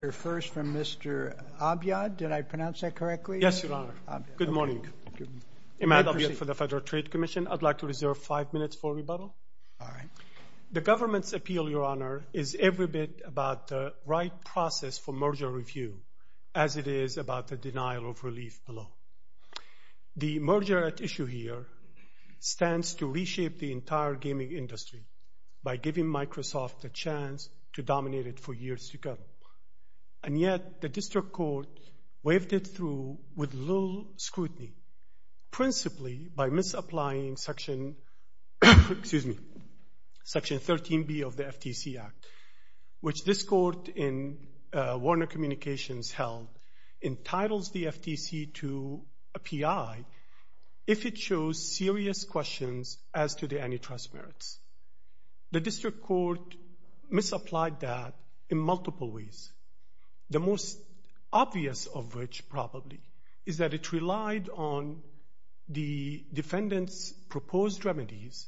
The merger at issue here stands to reshape the entire gaming industry by giving Microsoft the chance to dominate it for years to come. And yet, the district court waved it through with little scrutiny, principally by misapplying Section 13B of the FTC Act, which this court in Warner Communications held entitles the FTC to a PI if it shows serious questions as to the antitrust merits. The district court misapplied that in multiple ways, the most obvious of which, probably, is that it relied on the defendant's proposed remedies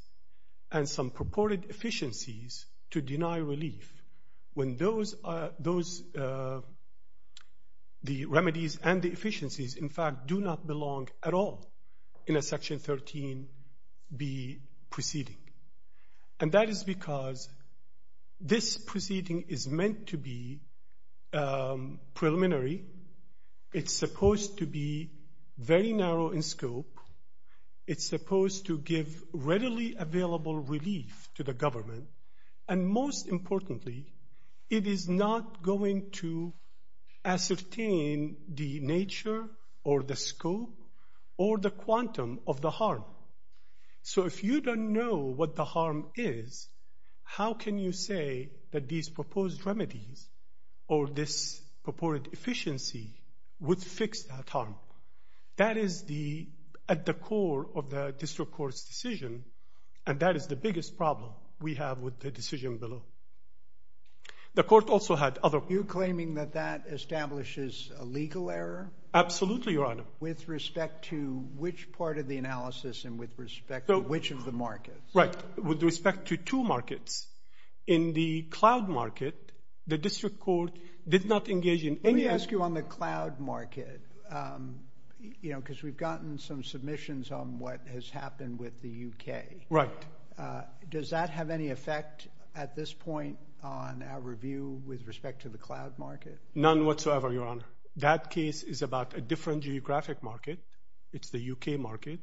and some purported efficiencies to deny relief when the remedies and the efficiencies, in fact, do not belong at all in a Section 13B proceeding. And that is because this proceeding is meant to be preliminary. It's supposed to be very narrow in scope. It's supposed to give readily available relief to the government. And most importantly, it is not going to ascertain the nature or the scope or the quantum of the harm. So if you don't know what the harm is, how can you say that these proposed remedies or this purported efficiency would fix that harm? That is at the core of the district court's decision, and that is the biggest problem we have with the decision below. The court also had other— You're claiming that that establishes a legal error? Absolutely, Your Honor. With respect to which part of the analysis and with respect to which of the markets? Right. With respect to two markets. In the cloud market, the district court did not engage in any— Because we've gotten some submissions on what has happened with the U.K. Right. Does that have any effect at this point on our review with respect to the cloud market? None whatsoever, Your Honor. That case is about a different geographic market. It's the U.K. market.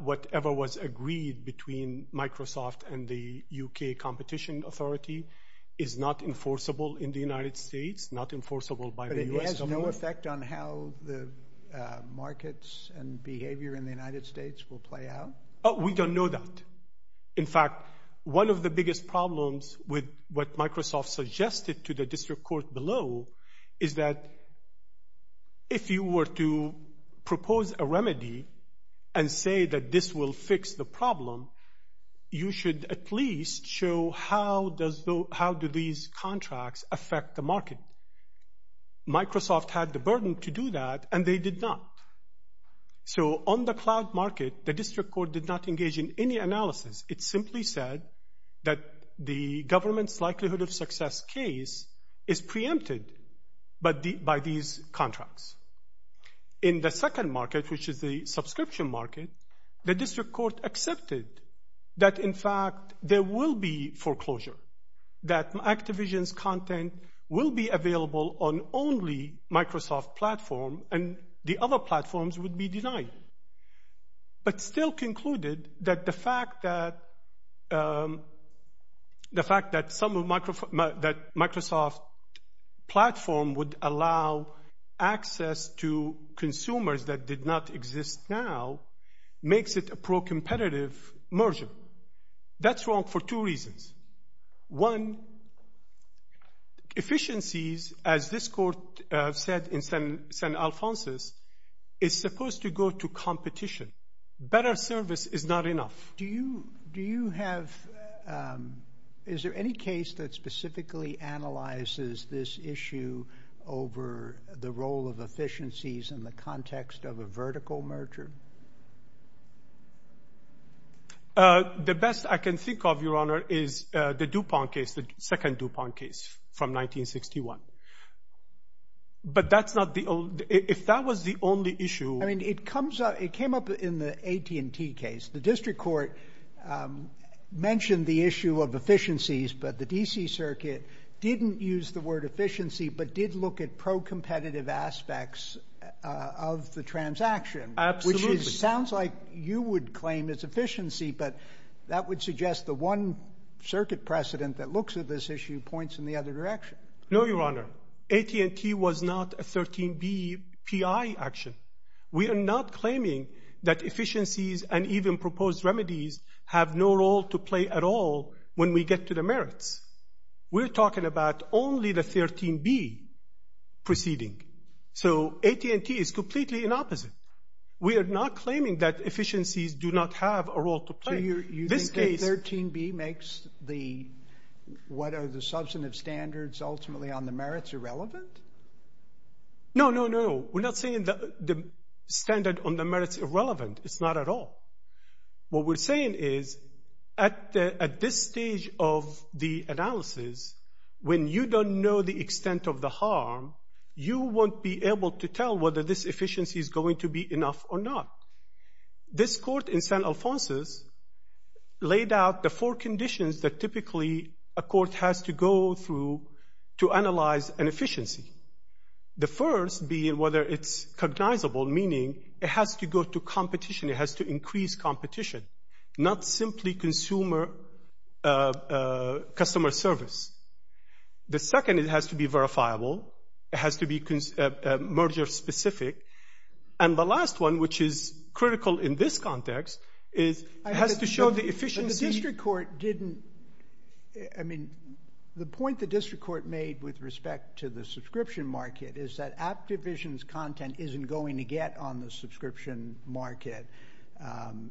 Whatever was agreed between Microsoft and the U.K. Competition Authority is not enforceable in the United States, not enforceable by the U.S. government. Does that have any effect on how the markets and behavior in the United States will play out? We don't know that. In fact, one of the biggest problems with what Microsoft suggested to the district court below is that if you were to propose a remedy and say that this will fix the problem, you should at least show how do these contracts affect the market. Microsoft had the burden to do that, and they did not. So on the cloud market, the district court did not engage in any analysis. It simply said that the government's likelihood of success case is preempted by these contracts. In the second market, which is the subscription market, the district court accepted that, in fact, there will be foreclosure, that Activision's content will be available on only Microsoft platform, and the other platforms would be denied. But still concluded that the fact that Microsoft platform would allow access to consumers that did not exist now makes it a pro-competitive merger. That's wrong for two reasons. One, efficiencies, as this court said in San Alfonso, is supposed to go to competition. Better service is not enough. Is there any case that specifically analyzes this issue over the role of efficiencies in the context of a vertical merger? The best I can think of, Your Honor, is the DuPont case, the second DuPont case from 1961. But that's not the only – if that was the only issue – I mean, it comes up – it came up in the AT&T case. The district court mentioned the issue of efficiencies, but the D.C. Circuit didn't use the word efficiency but did look at pro-competitive aspects of the transaction. Absolutely. Which sounds like you would claim it's efficiency, but that would suggest the one circuit precedent that looks at this issue points in the other direction. No, Your Honor. AT&T was not a 13B PI action. We are not claiming that efficiencies and even proposed remedies have no role to play at all when we get to the merits. We're talking about only the 13B proceeding. So AT&T is completely the opposite. We are not claiming that efficiencies do not have a role to play. So you think that 13B makes the – what are the substantive standards ultimately on the merits irrelevant? No, no, no. We're not saying that the standard on the merits is irrelevant. It's not at all. What we're saying is at this stage of the analysis, when you don't know the extent of the harm, you won't be able to tell whether this efficiency is going to be enough or not. This court in San Alfonso laid out the four conditions that typically a court has to go through to analyze an efficiency. The first being whether it's cognizable, meaning it has to go to competition. It has to increase competition, not simply customer service. The second, it has to be verifiable. It has to be merger specific. And the last one, which is critical in this context, is it has to show the efficiency. The district court didn't – I mean, the point the district court made with respect to the subscription market is that Aptivision's content isn't going to get on the subscription market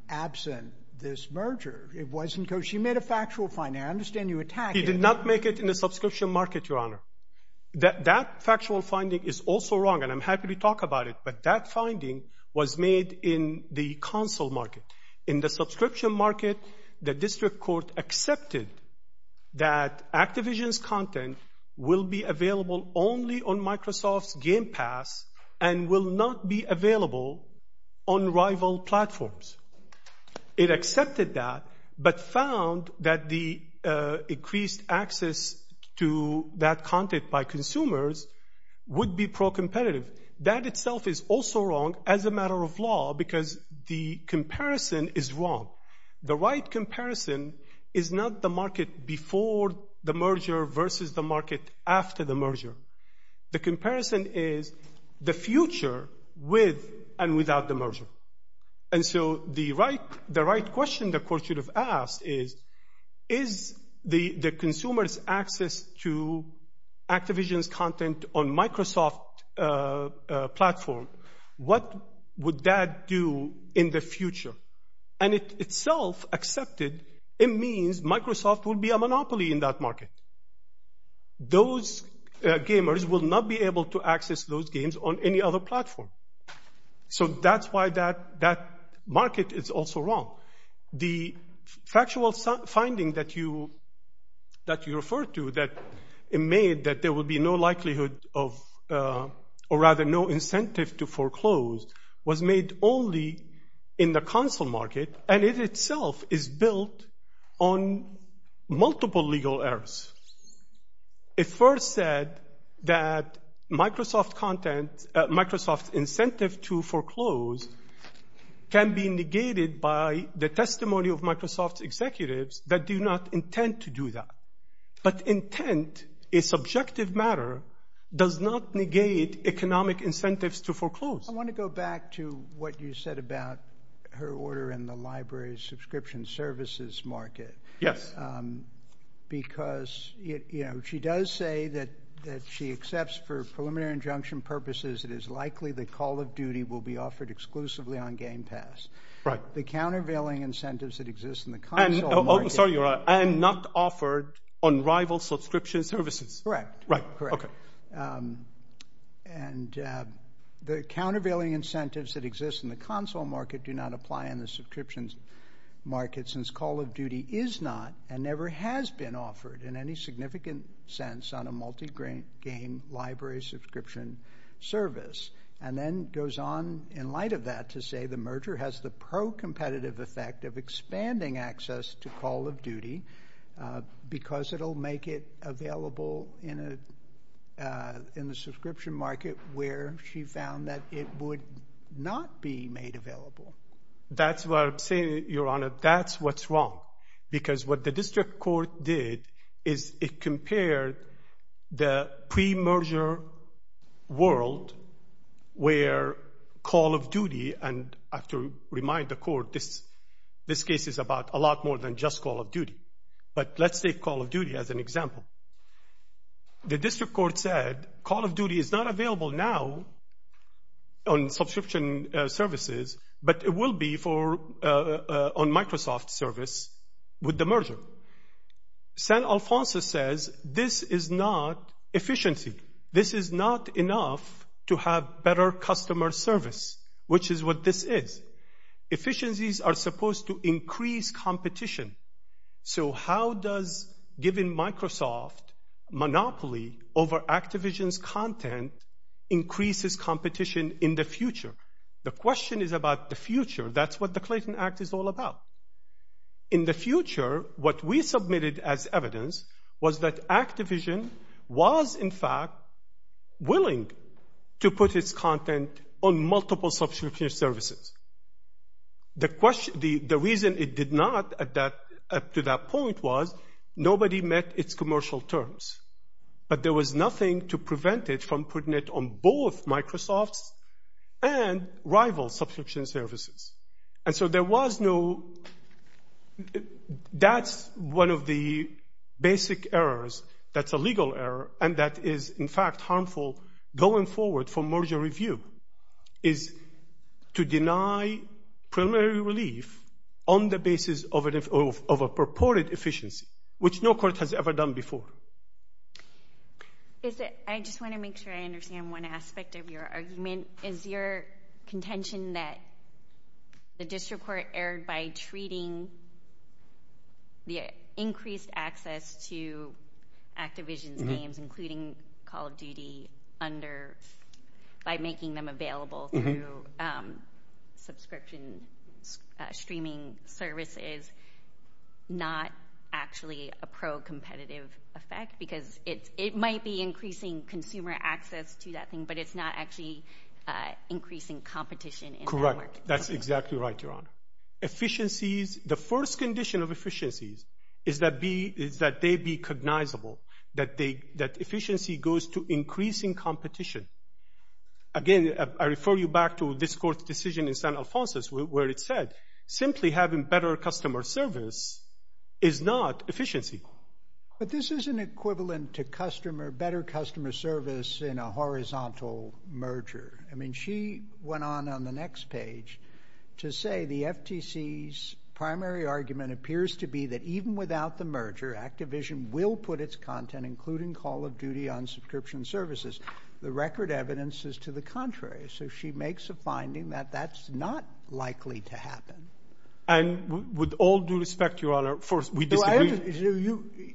absent this merger. It wasn't – she made a factual finding. I understand you attacked it. She did not make it in the subscription market, Your Honor. That factual finding is also wrong, and I'm happy to talk about it. But that finding was made in the counsel market. In the subscription market, the district court accepted that Aptivision's content will be available only on Microsoft Game Pass and will not be available on rival platforms. It accepted that but found that the increased access to that content by consumers would be pro-competitive. That itself is also wrong as a matter of law because the comparison is wrong. The right comparison is not the market before the merger versus the market after the merger. The comparison is the future with and without the merger. And so the right question the court should have asked is, is the consumer's access to Aptivision's content on Microsoft platform, what would that do in the future? And it itself accepted it means Microsoft will be a monopoly in that market. Those gamers will not be able to access those games on any other platform. So that's why that market is also wrong. The factual finding that you referred to that made that there would be no likelihood of or rather no incentive to foreclose was made only in the counsel market, and it itself is built on multiple legal errors. It first said that Microsoft incentive to foreclose can be negated by the testimony of Microsoft executives that do not intend to do that. But intent, a subjective matter, does not negate economic incentives to foreclose. I want to go back to what you said about her order in the library subscription services market. Yes. Because, you know, she does say that she accepts for preliminary injunction purposes it is likely the call of duty will be offered exclusively on Game Pass. Right. The countervailing incentives that exist in the counsel market. Sorry, you're right. And not offered on rival subscription services. Correct. Right. Okay. And the countervailing incentives that exist in the counsel market do not apply in the subscriptions market since call of duty is not and never has been offered in any significant sense on a multi-game library subscription service. And then goes on in light of that to say the merger has the pro-competitive effect of expanding access to call of duty because it will make it available in the subscription market where she found that it would not be made available. That's why I'm saying, Your Honor, that's what's wrong. Because what the district court did is it compared the pre-merger world where call of duty and I have to remind the court this case is about a lot more than just call of duty. But let's take call of duty as an example. The district court said call of duty is not available now on subscription services, but it will be on Microsoft service with the merger. San Alfonso says this is not efficiency. This is not enough to have better customer service, which is what this is. Efficiencies are supposed to increase competition. So how does giving Microsoft monopoly over Activision's content increases competition in the future? The question is about the future. That's what the Clayton Act is all about. In the future, what we submitted as evidence was that Activision was, in fact, willing to put its content on multiple subscription services. The reason it did not to that point was nobody met its commercial terms. But there was nothing to prevent it from putting it on both Microsoft and rival subscription services. That's one of the basic errors. That's a legal error, and that is, in fact, harmful going forward for merger review is to deny preliminary relief on the basis of a purported efficiency, which no court has ever done before. I just want to make sure I understand one aspect of your argument. Is your contention that the district court erred by treating the increased access to Activision games, including Call of Duty, by making them available through subscription streaming services, not actually a pro-competitive effect? Because it might be increasing consumer access to that thing, but it's not actually increasing competition. Correct. That's exactly right, Your Honor. The first condition of efficiency is that they be cognizable, that efficiency goes to increasing competition. Again, I refer you back to this court's decision in San Alfonso, where it said simply having better customer service is not efficiency. But this is an equivalent to better customer service in a horizontal merger. I mean, she went on on the next page to say the FTC's primary argument appears to be that even without the merger, Activision will put its content, including Call of Duty, on subscription services. The record evidence is to the contrary. So she makes a finding that that's not likely to happen. And with all due respect, Your Honor, first, we disagree.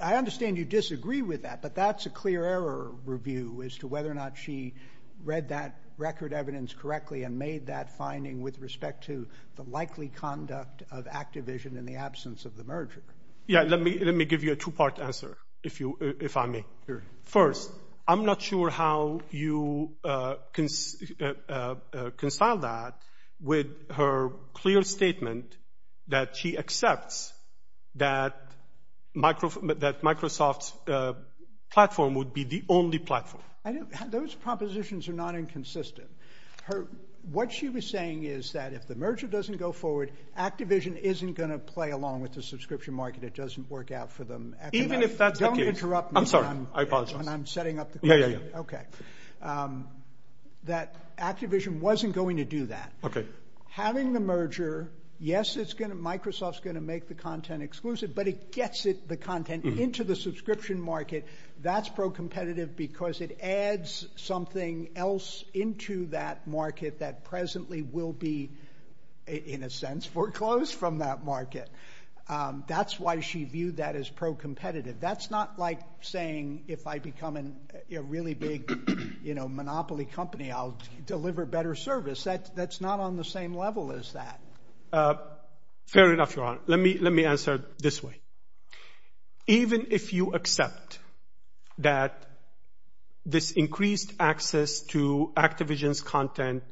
I understand you disagree with that, but that's a clear error review as to whether or not she read that record evidence correctly and made that finding with respect to the likely conduct of Activision in the absence of the merger. Yeah, let me give you a two-part answer, if I may. First, I'm not sure how you can reconcile that with her clear statement that she accepts that Microsoft's platform would be the only platform. Those propositions are not inconsistent. What she was saying is that if the merger doesn't go forward, Activision isn't going to play along with the subscription market. It doesn't work out for them. Even if that's the case. Don't interrupt me. I'm sorry. I apologize. I'm setting up the computer. Yeah, yeah, yeah. Okay. That Activision wasn't going to do that. Okay. Having the merger, yes, Microsoft's going to make the content exclusive, but it gets the content into the subscription market. That's pro-competitive because it adds something else into that market that presently will be, in a sense, foreclosed from that market. That's why she viewed that as pro-competitive. That's not like saying if I become a really big monopoly company, I'll deliver better service. That's not on the same level as that. Fair enough, Ron. Let me answer it this way. Even if you accept that this increased access to Activision's content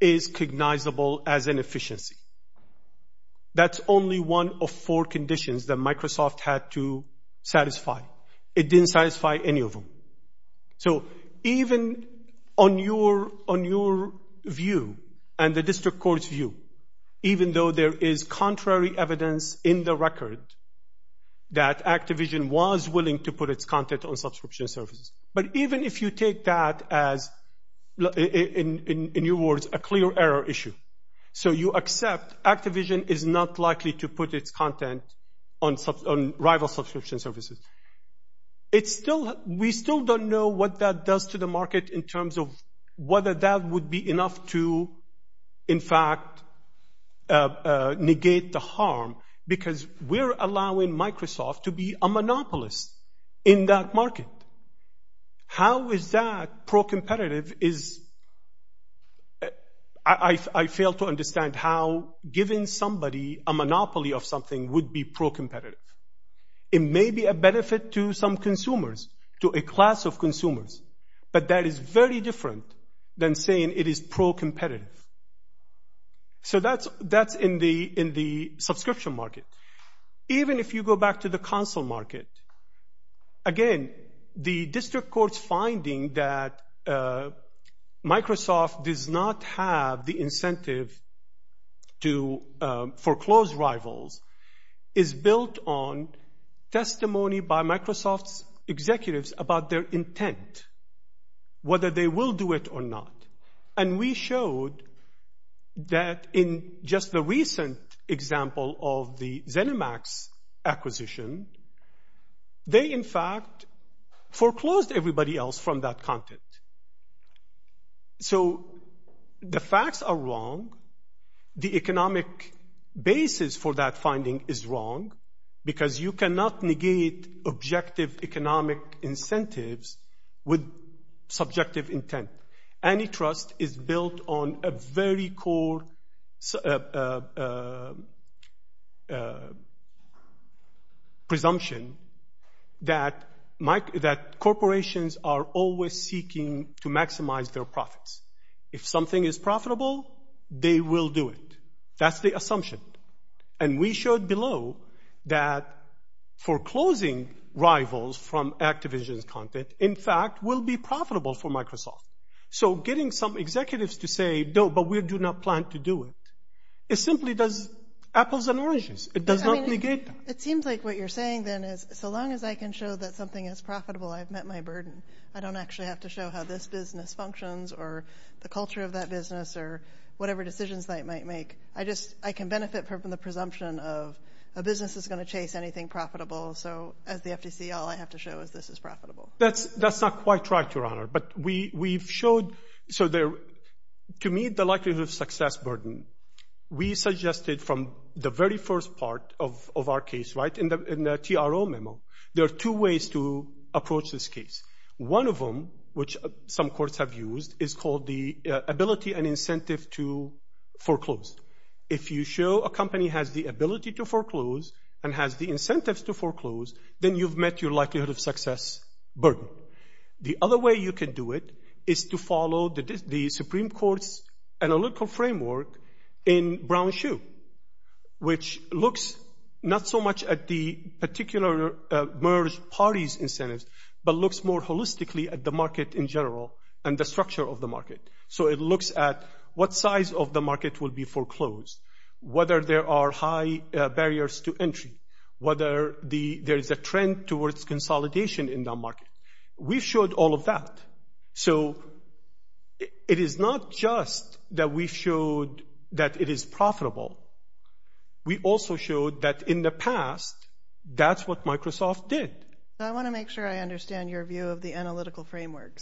is recognizable as an efficiency, that's only one of four conditions that Microsoft had to satisfy. It didn't satisfy any of them. Even on your view and the district court's view, even though there is contrary evidence in the record that Activision was willing to put its content on subscription services, but even if you take that as, in your words, a clear error issue, so you accept Activision is not likely to put its content on rival subscription services, we still don't know what that does to the market in terms of whether that would be enough to, in fact, negate the harm because we're allowing Microsoft to be a monopolist in that market. How is that pro-competitive? I fail to understand how giving somebody a monopoly of something would be pro-competitive. It may be a benefit to some consumers, to a class of consumers, but that is very different than saying it is pro-competitive. That's in the subscription market. Even if you go back to the console market, again, the district court's finding that Microsoft does not have the incentive to foreclose rivals is built on testimony by Microsoft executives about their intent, whether they will do it or not. And we showed that in just the recent example of the ZeniMax acquisition, they, in fact, foreclosed everybody else from that content. So the facts are wrong. The economic basis for that finding is wrong because you cannot negate objective economic incentives with subjective intent. Antitrust is built on a very core presumption that corporations are always seeking to maximize their profits. If something is profitable, they will do it. That's the assumption. And we showed below that foreclosing rivals from Activision's content, in fact, will be profitable for Microsoft. So getting some executives to say, no, but we do not plan to do it, it simply does apples and oranges. It does not negate them. It seems like what you're saying then is so long as I can show that something is profitable, I've met my burden. I don't actually have to show how this business functions or the culture of that business or whatever decisions I might make. I just, I can benefit from the presumption of a business that's going to chase anything profitable. So as the FTC, all I have to show is this is profitable. That's not quite right, Your Honor. But we've showed, to me, the likelihood of success burden. We suggested from the very first part of our case, right, in the TRO memo, there are two ways to approach this case. One of them, which some courts have used, is called the ability and incentive to foreclose. If you show a company has the ability to foreclose and has the incentives to foreclose, then you've met your likelihood of success burden. The other way you can do it is to follow the Supreme Court's analytical framework in Brown-Hsu, which looks not so much at the particular merged parties incentives, but looks more holistically at the market in general and the structure of the market. So it looks at what size of the market will be foreclosed, whether there are high barriers to entry, whether there's a trend towards consolidation in the market. We showed all of that. So it is not just that we showed that it is profitable. We also showed that in the past, that's what Microsoft did. I want to make sure I understand your view of the analytical framework.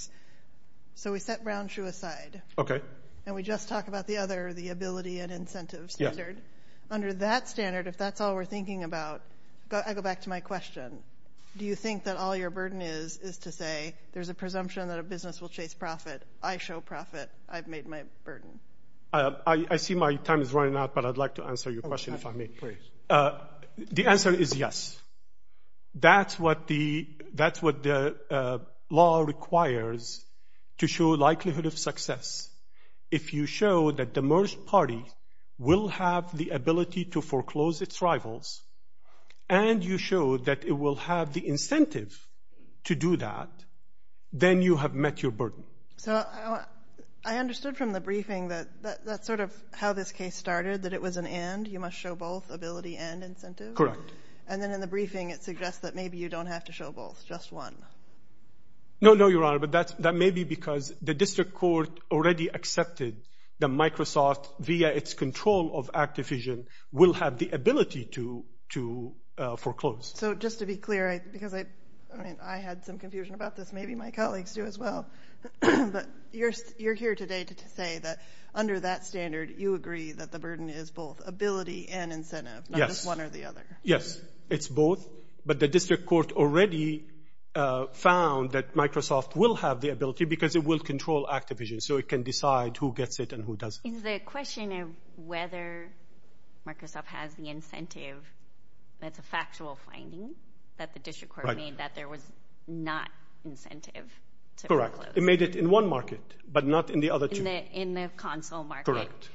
So we set Brown-Hsu aside. Okay. And we just talked about the other, the ability and incentive standard. Under that standard, if that's all we're thinking about, I go back to my question. Do you think that all your burden is is to say there's a presumption that a business will chase profit? I show profit. I've made my burden. I see my time is running out, but I'd like to answer your question if I may, please. The answer is yes. That's what the law requires to show likelihood of success. If you show that the merged party will have the ability to foreclose its rivals and you show that it will have the incentives to do that, then you have met your burden. So I understood from the briefing that that's sort of how this case started, that it was an and, you must show both ability and incentive? Correct. And then in the briefing it suggests that maybe you don't have to show both, just one. No, no, Your Honor, but that may be because the district court already accepted that Microsoft, via its control of Activision, will have the ability to foreclose. So just to be clear, because I had some confusion about this, maybe my colleagues do as well, but you're here today to say that under that standard, you agree that the burden is both ability and incentive, not just one or the other. Yes, it's both. But the district court already found that Microsoft will have the ability because it will control Activision, so it can decide who gets it and who doesn't. And the question of whether Microsoft has the incentive, that's a factual finding that the district court made that there was not incentive to foreclose. Correct. It made it in one market, but not in the other two. In the console market. Correct.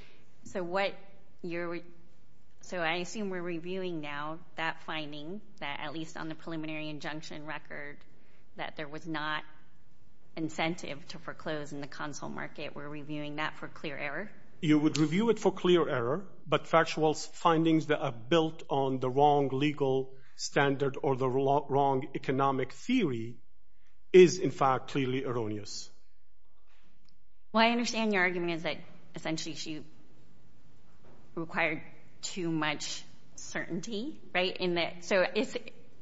So I assume we're reviewing now that finding, that at least on the preliminary injunction record, that there was not incentive to foreclose in the console market. We're reviewing that for clear error? You would review it for clear error, but factual findings that are built on the wrong legal standard or the wrong economic theory is, in fact, clearly erroneous. Well, I understand your argument is that essentially she required too much certainty. Right? So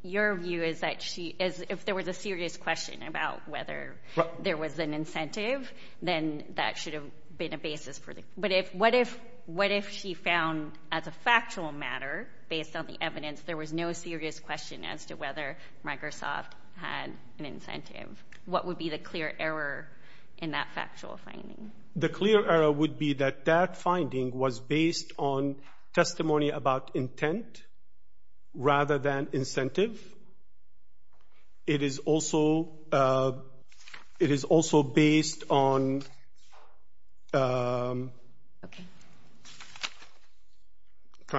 your view is that if there was a serious question about whether there was an incentive, then that should have been a basis. But what if she found, as a factual matter, based on the evidence, there was no serious question as to whether Microsoft had an incentive? What would be the clear error in that factual finding? The clear error would be that that finding was based on testimony about intent, rather than incentive. It is also based on trying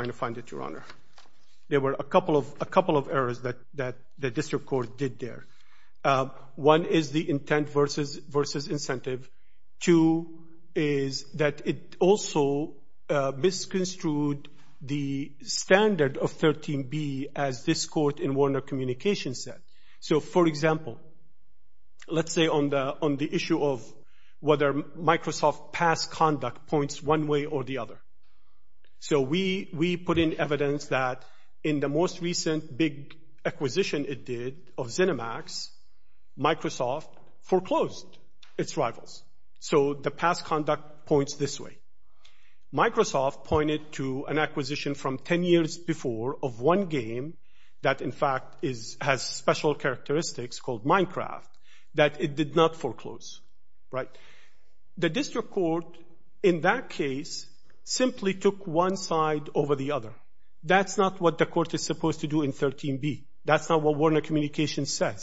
to find it, Your Honor. There were a couple of errors that the district court did there. One is the intent versus incentive. Two is that it also misconstrued the standard of 13B as this court in Warner Communications said. So, for example, let's say on the issue of whether Microsoft past conduct points one way or the other. So we put in evidence that in the most recent big acquisition it did of ZeniMax, Microsoft foreclosed its rivals. So the past conduct points this way. Microsoft pointed to an acquisition from 10 years before of one game that, in fact, has special characteristics called Minecraft that it did not foreclose. The district court in that case simply took one side over the other. That's not what the court is supposed to do in 13B. That's not what Warner Communications said.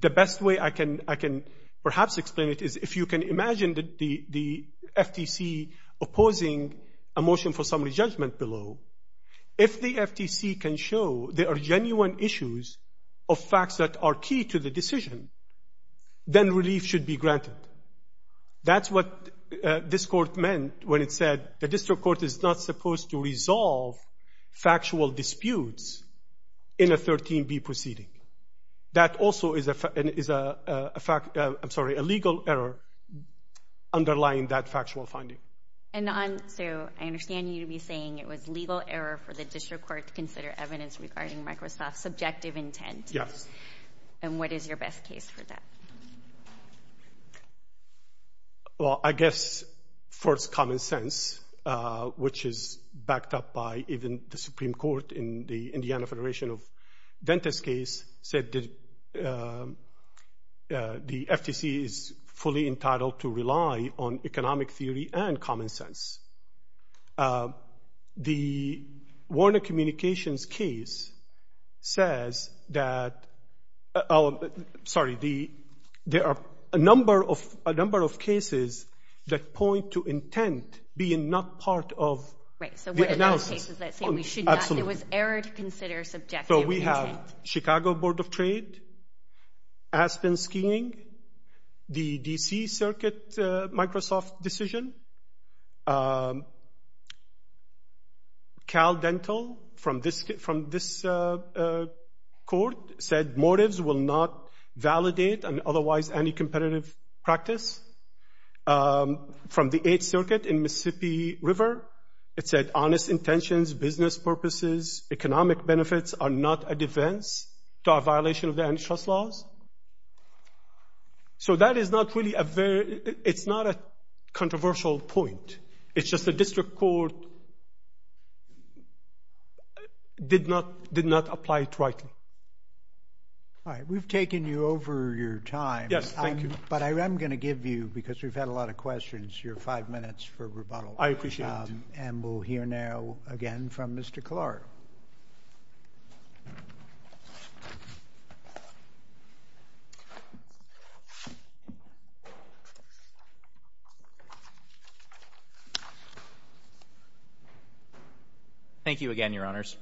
The best way I can perhaps explain it is if you can imagine the FTC opposing a motion for summary judgment below, if the FTC can show there are genuine issues of facts that are key to the decision, then relief should be granted. That's what this court meant when it said the district court is not supposed to resolve factual disputes in a 13B proceeding. That also is a legal error underlying that factual finding. And so I understand you to be saying it was legal error for the district court to consider evidence regarding Microsoft's subjective intent. Yes. And what is your best case for that? Well, I guess first common sense, which is backed up by even the Supreme Court in the Indiana Federation of Dentists case, said the FTC is fully entitled to rely on economic theory and common sense. The Warner Communications case says that – sorry, there are a number of cases that point to intent being not part of the analysis. Right, so we have cases that say we should not – it was error to consider subjective intent. So we have Chicago Board of Trade, Aspen Scheming, the D.C. Circuit Microsoft decision. Cal Dental from this court said motives will not validate on otherwise any competitive practice. From the 8th Circuit in Mississippi River, it said honest intentions, business purposes, economic benefits are not a defense to our violation of the antitrust laws. So that is not really a – it's not a controversial point. It's just the district court did not apply it rightly. All right. We've taken you over your time. Yes, thank you. But I'm going to give you, because we've had a lot of questions, your five minutes for rebuttal. I appreciate it. And we'll hear now again from Mr. Clark. Thank you again, Your Honors.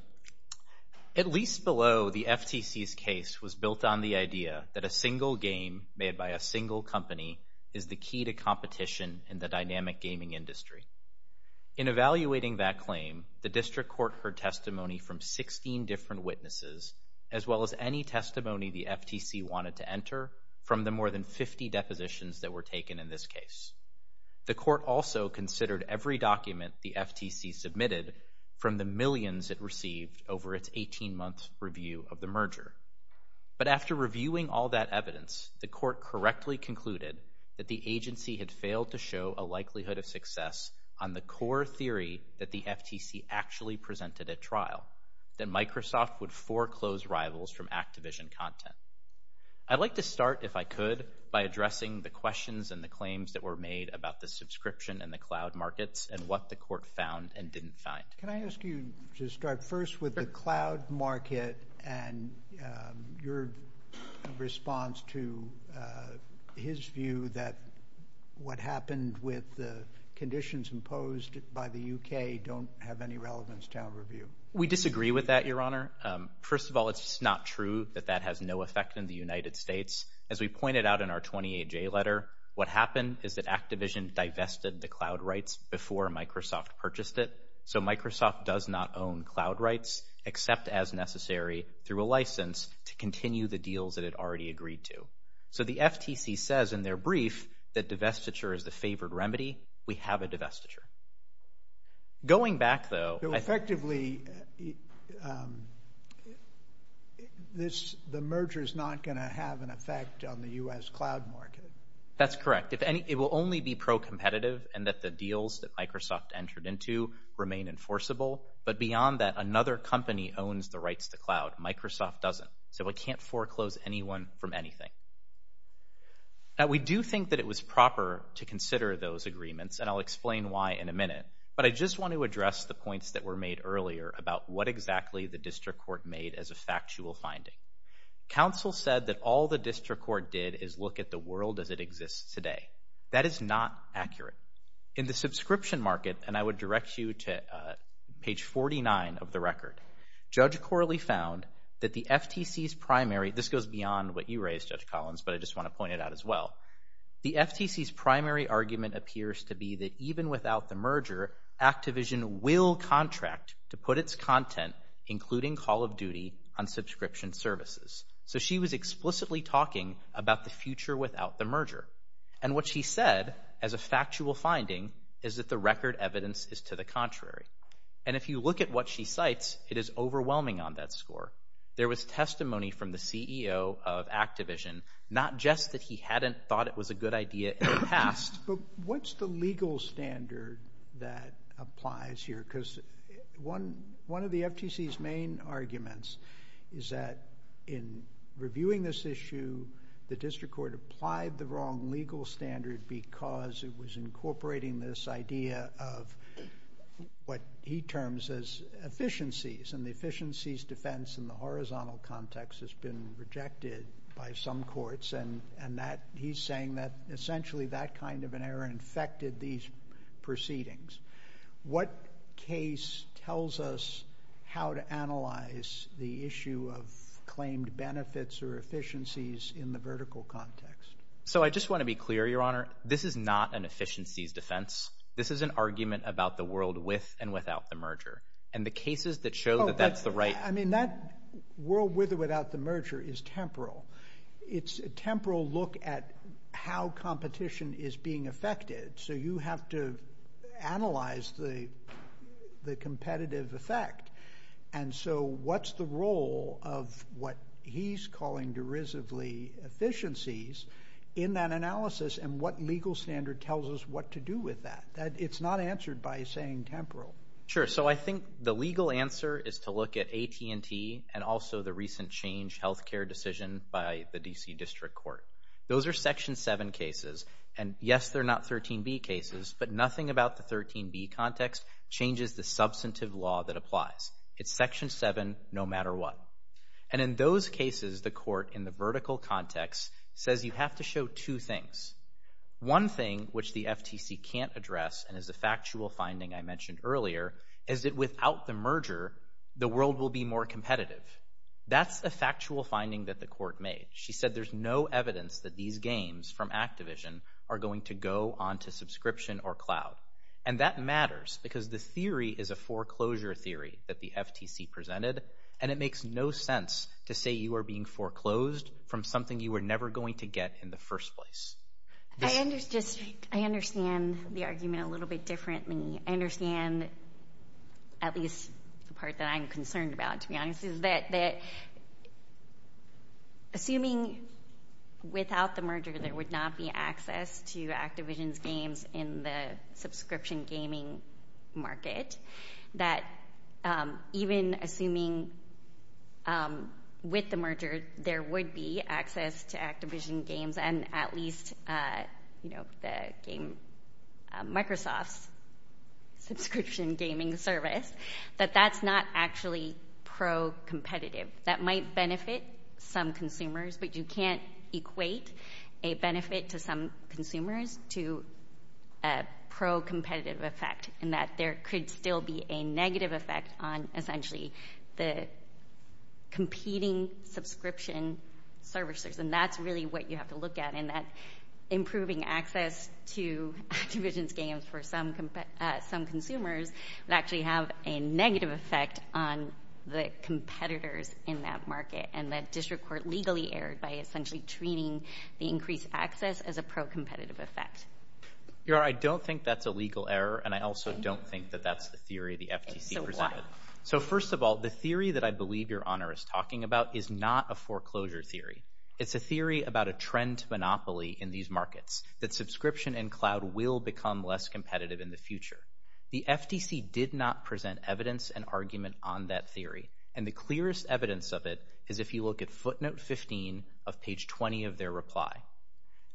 At least below, the FTC's case was built on the idea that a single game made by a single company is the key to competition in the dynamic gaming industry. In evaluating that claim, the district court heard testimony from 16 different witnesses, as well as any testimony the FTC wanted to enter from the more than 50 depositions that were taken in this case. The court also considered every document the FTC submitted from the millions it received over its 18-month review of the merger. But after reviewing all that evidence, the court correctly concluded that the agency had failed to show a likelihood of success on the core theory that the FTC actually presented at trial, that Microsoft would foreclose rivals from Activision content. I'd like to start, if I could, by addressing the questions and the claims that were made about the subscription and the cloud markets and what the court found and didn't find. Can I ask you to start first with the cloud market and your response to his view that what happened with the conditions imposed by the UK don't have any relevance to our review? We disagree with that, Your Honor. First of all, it's not true that that has no effect in the United States. As we pointed out in our 28-J letter, what happened is that Activision divested the cloud rights before Microsoft purchased it. So Microsoft does not own cloud rights except as necessary through a license to continue the deals that it already agreed to. So the FTC says in their brief that divestiture is the favored remedy. We have a divestiture. Going back, though... So effectively, the merger is not going to have an effect on the U.S. cloud market. That's correct. It will only be pro-competitive and that the deals that Microsoft entered into remain enforceable. But beyond that, another company owns the rights to cloud. Microsoft doesn't. So it can't foreclose anyone from anything. Now, we do think that it was proper to consider those agreements, and I'll explain why in a minute, but I just want to address the points that were made earlier about what exactly the district court made as a factual finding. Counsel said that all the district court did is look at the world as it exists today. That is not accurate. In the subscription market, and I would direct you to page 49 of the record, Judge Corley found that the FTC's primary... This goes beyond what you raised, Judge Collins, but I just want to point it out as well. The FTC's primary argument appears to be that even without the merger, Activision will contract to put its content, including Call of Duty, on subscription services. So she was explicitly talking about the future without the merger. And what she said as a factual finding is that the record evidence is to the contrary. And if you look at what she cites, it is overwhelming on that score. There was testimony from the CEO of Activision, not just that he hadn't thought it was a good idea in the past. What's the legal standard that applies here? Because one of the FTC's main arguments is that in reviewing this issue, the district court applied the wrong legal standard because it was incorporating this idea of what he terms as efficiencies. And the efficiencies defense in the horizontal context has been rejected by some courts. And he's saying that essentially that kind of an error infected these proceedings. What case tells us how to analyze the issue of claimed benefits or efficiencies in the vertical context? So I just want to be clear, Your Honor, this is not an efficiencies defense. This is an argument about the world with and without the merger. And the cases that show that that's the right... I mean, that world with or without the merger is temporal. It's a temporal look at how competition is being affected. So you have to analyze the competitive effect. And so what's the role of what he's calling derisively efficiencies in that analysis and what legal standard tells us what to do with that? It's not answered by saying temporal. Sure. So I think the legal answer is to look at AT&T and also the recent change healthcare decision by the D.C. District Court. Those are Section 7 cases. And yes, they're not 13B cases. But nothing about the 13B context changes the substantive law that applies. It's Section 7 no matter what. And in those cases, the court in the vertical context says you have to show two things. One thing which the FTC can't address and is a factual finding I mentioned earlier is that without the merger, the world will be more competitive. That's a factual finding that the court made. She said there's no evidence that these gains from Activision are going to go on to subscription or cloud. And that matters because the theory is a foreclosure theory that the FTC presented, and it makes no sense to say you are being foreclosed from something you were never going to get in the first place. I understand the argument a little bit differently. I understand at least the part that I'm concerned about, to be honest, is that assuming without the merger, there would not be access to Activision's games in the subscription gaming market, that even assuming with the merger, there would be access to Activision games and at least Microsoft's subscription gaming service, that that's not actually pro-competitive. That might benefit some consumers, but you can't equate a benefit to some consumers to a pro-competitive effect in that there could still be a negative effect on essentially the competing subscription services. And that's really what you have to look at in that improving access to Activision's games for some consumers would actually have a negative effect on the competitors in that market and that district court legally erred by essentially treating the increased access as a pro-competitive effect. I don't think that's a legal error, and I also don't think that that's the theory the FTC presented. So first of all, the theory that I believe Your Honor is talking about is not a foreclosure theory. It's a theory about a trend monopoly in these markets, that subscription and cloud will become less competitive in the future. The FTC did not present evidence and argument on that theory, and the clearest evidence of it is if you look at footnote 15 of page 20 of their reply.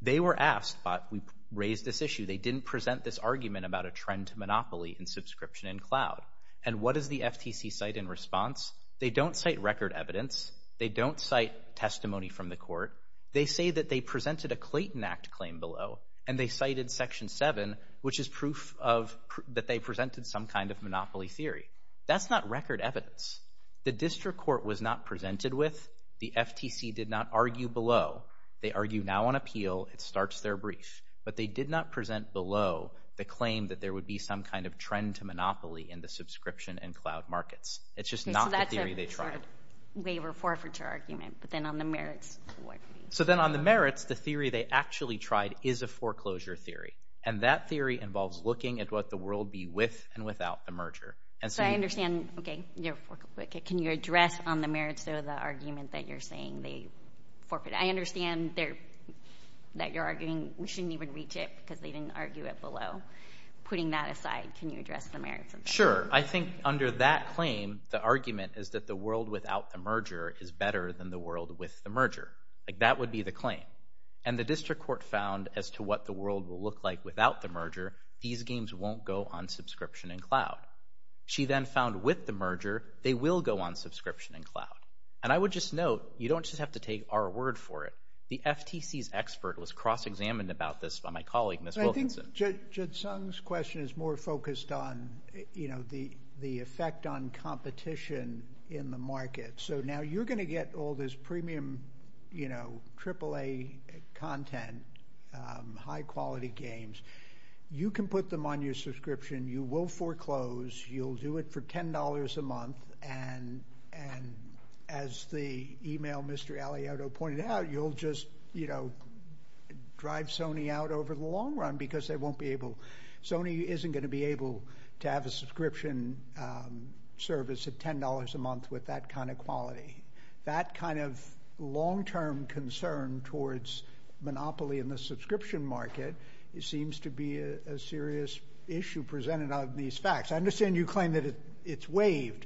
They were asked, but we raised this issue, they didn't present this argument about a trend monopoly in subscription and cloud. And what does the FTC cite in response? They don't cite record evidence. They don't cite testimony from the court. They say that they presented a Clayton Act claim below, and they cited section 7, which is proof that they presented some kind of monopoly theory. That's not record evidence. The district court was not presented with. The FTC did not argue below. They argue now on appeal. It starts their brief. But they did not present below the claim that there would be some kind of trend to monopoly in the subscription and cloud markets. It's just not the theory they tried. They were forfeiture argument, but then on the merits. So then on the merits, the theory they actually tried is a foreclosure theory, and that theory involves looking at what the world be with and without the merger. So I understand. Can you address on the merits of the argument that you're saying? I understand that you're arguing we shouldn't even reach it because they didn't argue it below. Putting that aside, can you address the merits? Sure. I think under that claim, the argument is that the world without the merger is better than the world with the merger. That would be the claim. And the district court found as to what the world will look like without the merger, these games won't go on subscription and cloud. She then found with the merger, they will go on subscription and cloud. And I would just note, you don't just have to take our word for it. The FTC's expert was cross-examined about this by my colleague, Ms. Wilkinson. Jed Sung's question is more focused on the effect on competition in the market. So now you're going to get all this premium AAA content, high-quality games. You can put them on your subscription. You will foreclose. You'll do it for $10 a month. And as the email Mr. Aliotto pointed out, you'll just drive Sony out over the long run because they won't be able – Sony isn't going to be able to have a subscription service at $10 a month with that kind of quality. That kind of long-term concern towards monopoly in the subscription market seems to be a serious issue presented on these facts. I understand you claim that it's waived,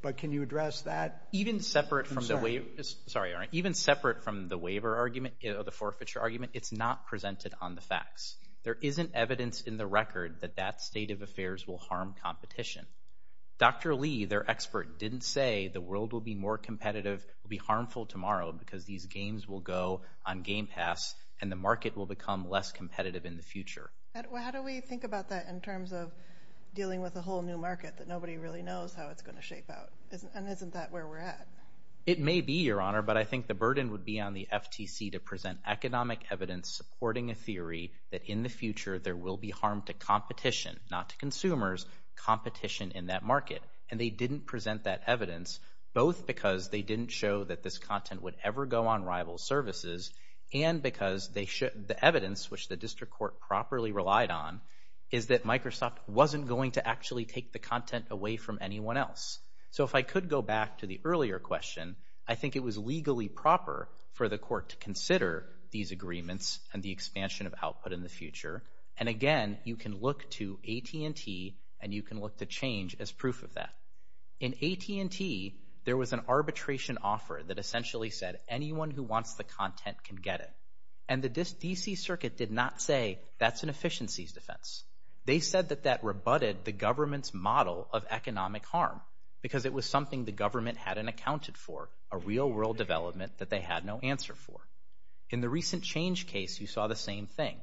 but can you address that concern? Even separate from the waiver argument or the forfeiture argument, it's not presented on the facts. There isn't evidence in the record that that state of affairs will harm competition. Dr. Lee, their expert, didn't say the world will be more competitive, will be harmful tomorrow because these games will go on Game Pass, and the market will become less competitive in the future. How do we think about that in terms of dealing with a whole new market that nobody really knows how it's going to shape out? And isn't that where we're at? It may be, Your Honor, but I think the burden would be on the FTC to present economic evidence supporting a theory that in the future there will be harm to competition, not to consumers, competition in that market. And they didn't present that evidence both because they didn't show that this content would ever go on rival services and because the evidence, which the district court properly relied on, is that Microsoft wasn't going to actually take the content away from anyone else. So if I could go back to the earlier question, I think it was legally proper for the court to consider these agreements and the expansion of output in the future. And again, you can look to AT&T and you can look to change as proof of that. In AT&T, there was an arbitration offer that essentially said anyone who wants the content can get it. And the D.C. Circuit did not say that's an efficiencies defense. They said that that rebutted the government's model of economic harm because it was something the government hadn't accounted for, a real-world development that they had no answer for. In the recent change case, you saw the same thing.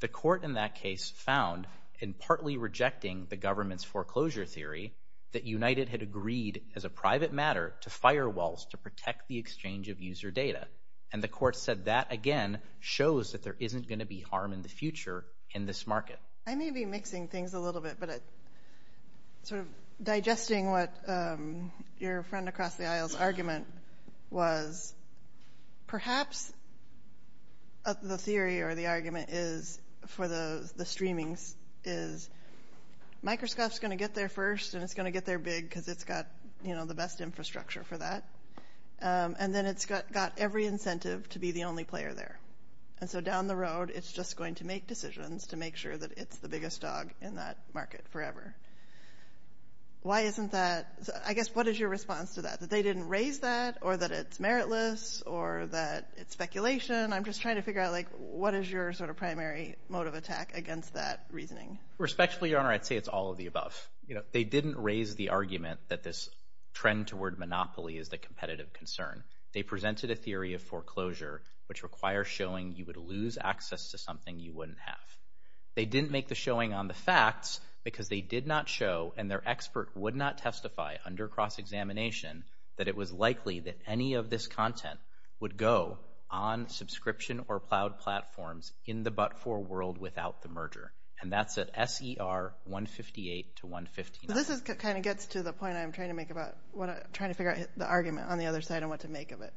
The court in that case found, in partly rejecting the government's foreclosure theory, that United had agreed as a private matter to firewalls And the court said that, again, shows that there isn't going to be harm in the future in this market. I may be mixing things a little bit, but it's sort of digesting what your friend across the aisle's argument was. Perhaps the theory or the argument is, for the streaming, is Microsoft's going to get there first and it's going to get there big because it's got the best infrastructure for that. And then it's got every incentive to be the only player there. And so down the road, it's just going to make decisions to make sure that it's the biggest dog in that market forever. Why isn't that – I guess, what is your response to that? That they didn't raise that or that it's meritless or that it's speculation? I'm just trying to figure out, like, what is your sort of primary mode of attack against that reasoning? Respectfully, Your Honor, I'd say it's all of the above. They didn't raise the argument that this trend toward monopoly is a competitive concern. They presented a theory of foreclosure, which requires showing you would lose access to something you wouldn't have. They didn't make the showing on the facts because they did not show, and their expert would not testify under cross-examination, that it was likely that any of this content would go on subscription or cloud platforms in the but-for world without the merger. And that's at SER 158 to 159. So this kind of gets to the point I'm trying to make about – trying to figure out the argument on the other side and what to make of it.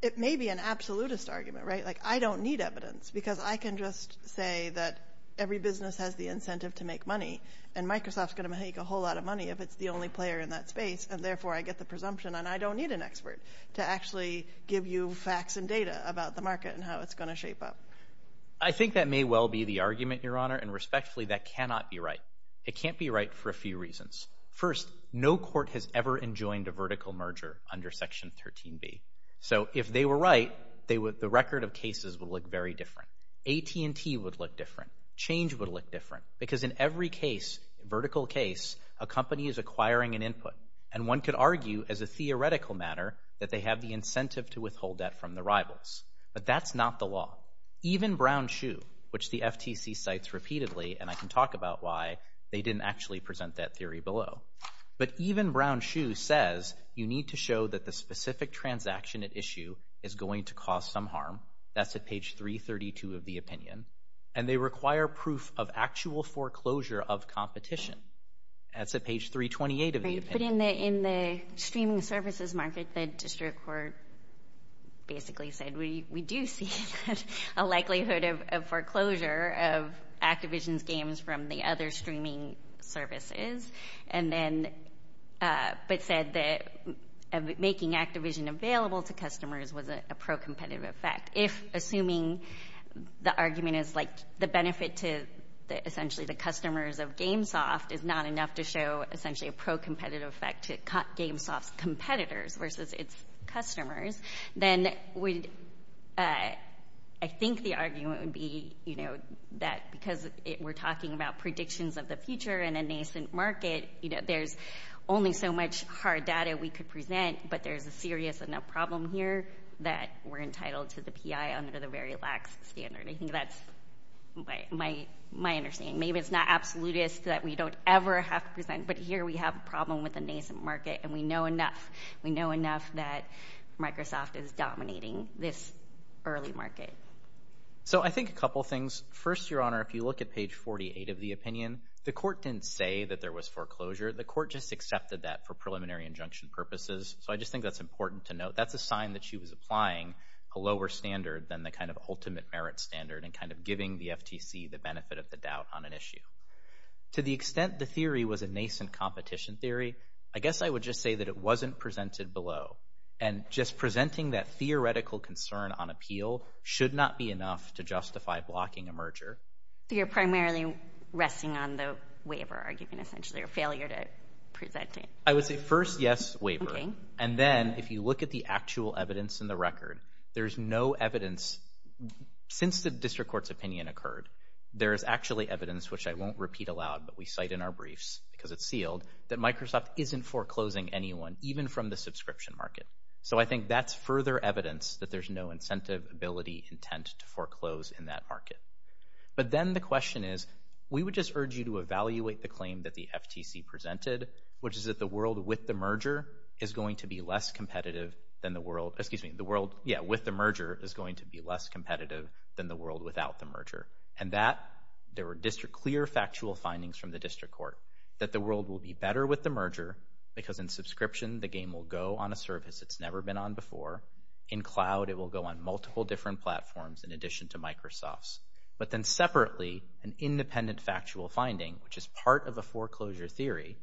It may be an absolutist argument, right? Like, I don't need evidence because I can just say that every business has the incentive to make money, and Microsoft's going to make a whole lot of money if it's the only player in that space, and therefore I get the presumption, and I don't need an expert to actually give you facts and data about the market and how it's going to shape up. I think that may well be the argument, Your Honor, and respectfully, that cannot be right. It can't be right for a few reasons. First, no court has ever enjoined a vertical merger under Section 13b. So if they were right, the record of cases would look very different. AT&T would look different. Change would look different. Because in every case, vertical case, a company is acquiring an input, and one could argue as a theoretical matter that they have the incentive to withhold that from the rivals. But that's not the law. Even Brown-Schuh, which the FTC cites repeatedly, and I can talk about why they didn't actually present that theory below. But even Brown-Schuh says you need to show that the specific transaction at issue is going to cause some harm. That's at page 332 of the opinion. And they require proof of actual foreclosure of competition. That's at page 328 of the opinion. In the streaming services market, the district court basically said we do see a likelihood of foreclosure of Activision's games from the other streaming services. But said that making Activision available to customers was a pro-competitive effect. Assuming the argument is the benefit to essentially the customers of GameSoft is not enough to show essentially a pro-competitive effect to cut GameSoft's competitors versus its customers, then I think the argument would be that because we're talking about predictions of the future in a nascent market, there's only so much hard data we could present, but there's a serious enough problem here that we're entitled to the PI under the very lax standard. I think that's my understanding. Maybe it's not absolutist that we don't ever have to present, but here we have a problem with a nascent market, and we know enough. We know enough that Microsoft is dominating this early market. So I think a couple things. First, Your Honor, if you look at page 48 of the opinion, the court didn't say that there was foreclosure. The court just accepted that for preliminary injunction purposes. So I just think that's important to note. That's a sign that she was applying a lower standard than the kind of ultimate merit standard and kind of giving the FTC the benefit of the doubt on an issue. To the extent the theory was a nascent competition theory, I guess I would just say that it wasn't presented below. And just presenting that theoretical concern on appeal should not be enough to justify blocking a merger. You're primarily resting on the waiver argument, essentially, or failure to present it. I would say first, yes, waiver. And then if you look at the actual evidence in the record, there's no evidence since the district court's opinion occurred. There's actually evidence, which I won't repeat aloud, but we cite in our briefs because it's sealed, that Microsoft isn't foreclosing anyone, even from the subscription market. So I think that's further evidence that there's no incentive, ability, intent to foreclose in that market. But then the question is, we would just urge you to evaluate the claim that the FTC presented, which is that the world with the merger is going to be less competitive than the world without the merger. And that there were clear factual findings from the district court that the world will be better with the merger because in subscription, the game will go on a service that's never been on before. In cloud, it will go on multiple different platforms in addition to Microsoft's. But then separately, an independent factual finding, which is part of the foreclosure theory,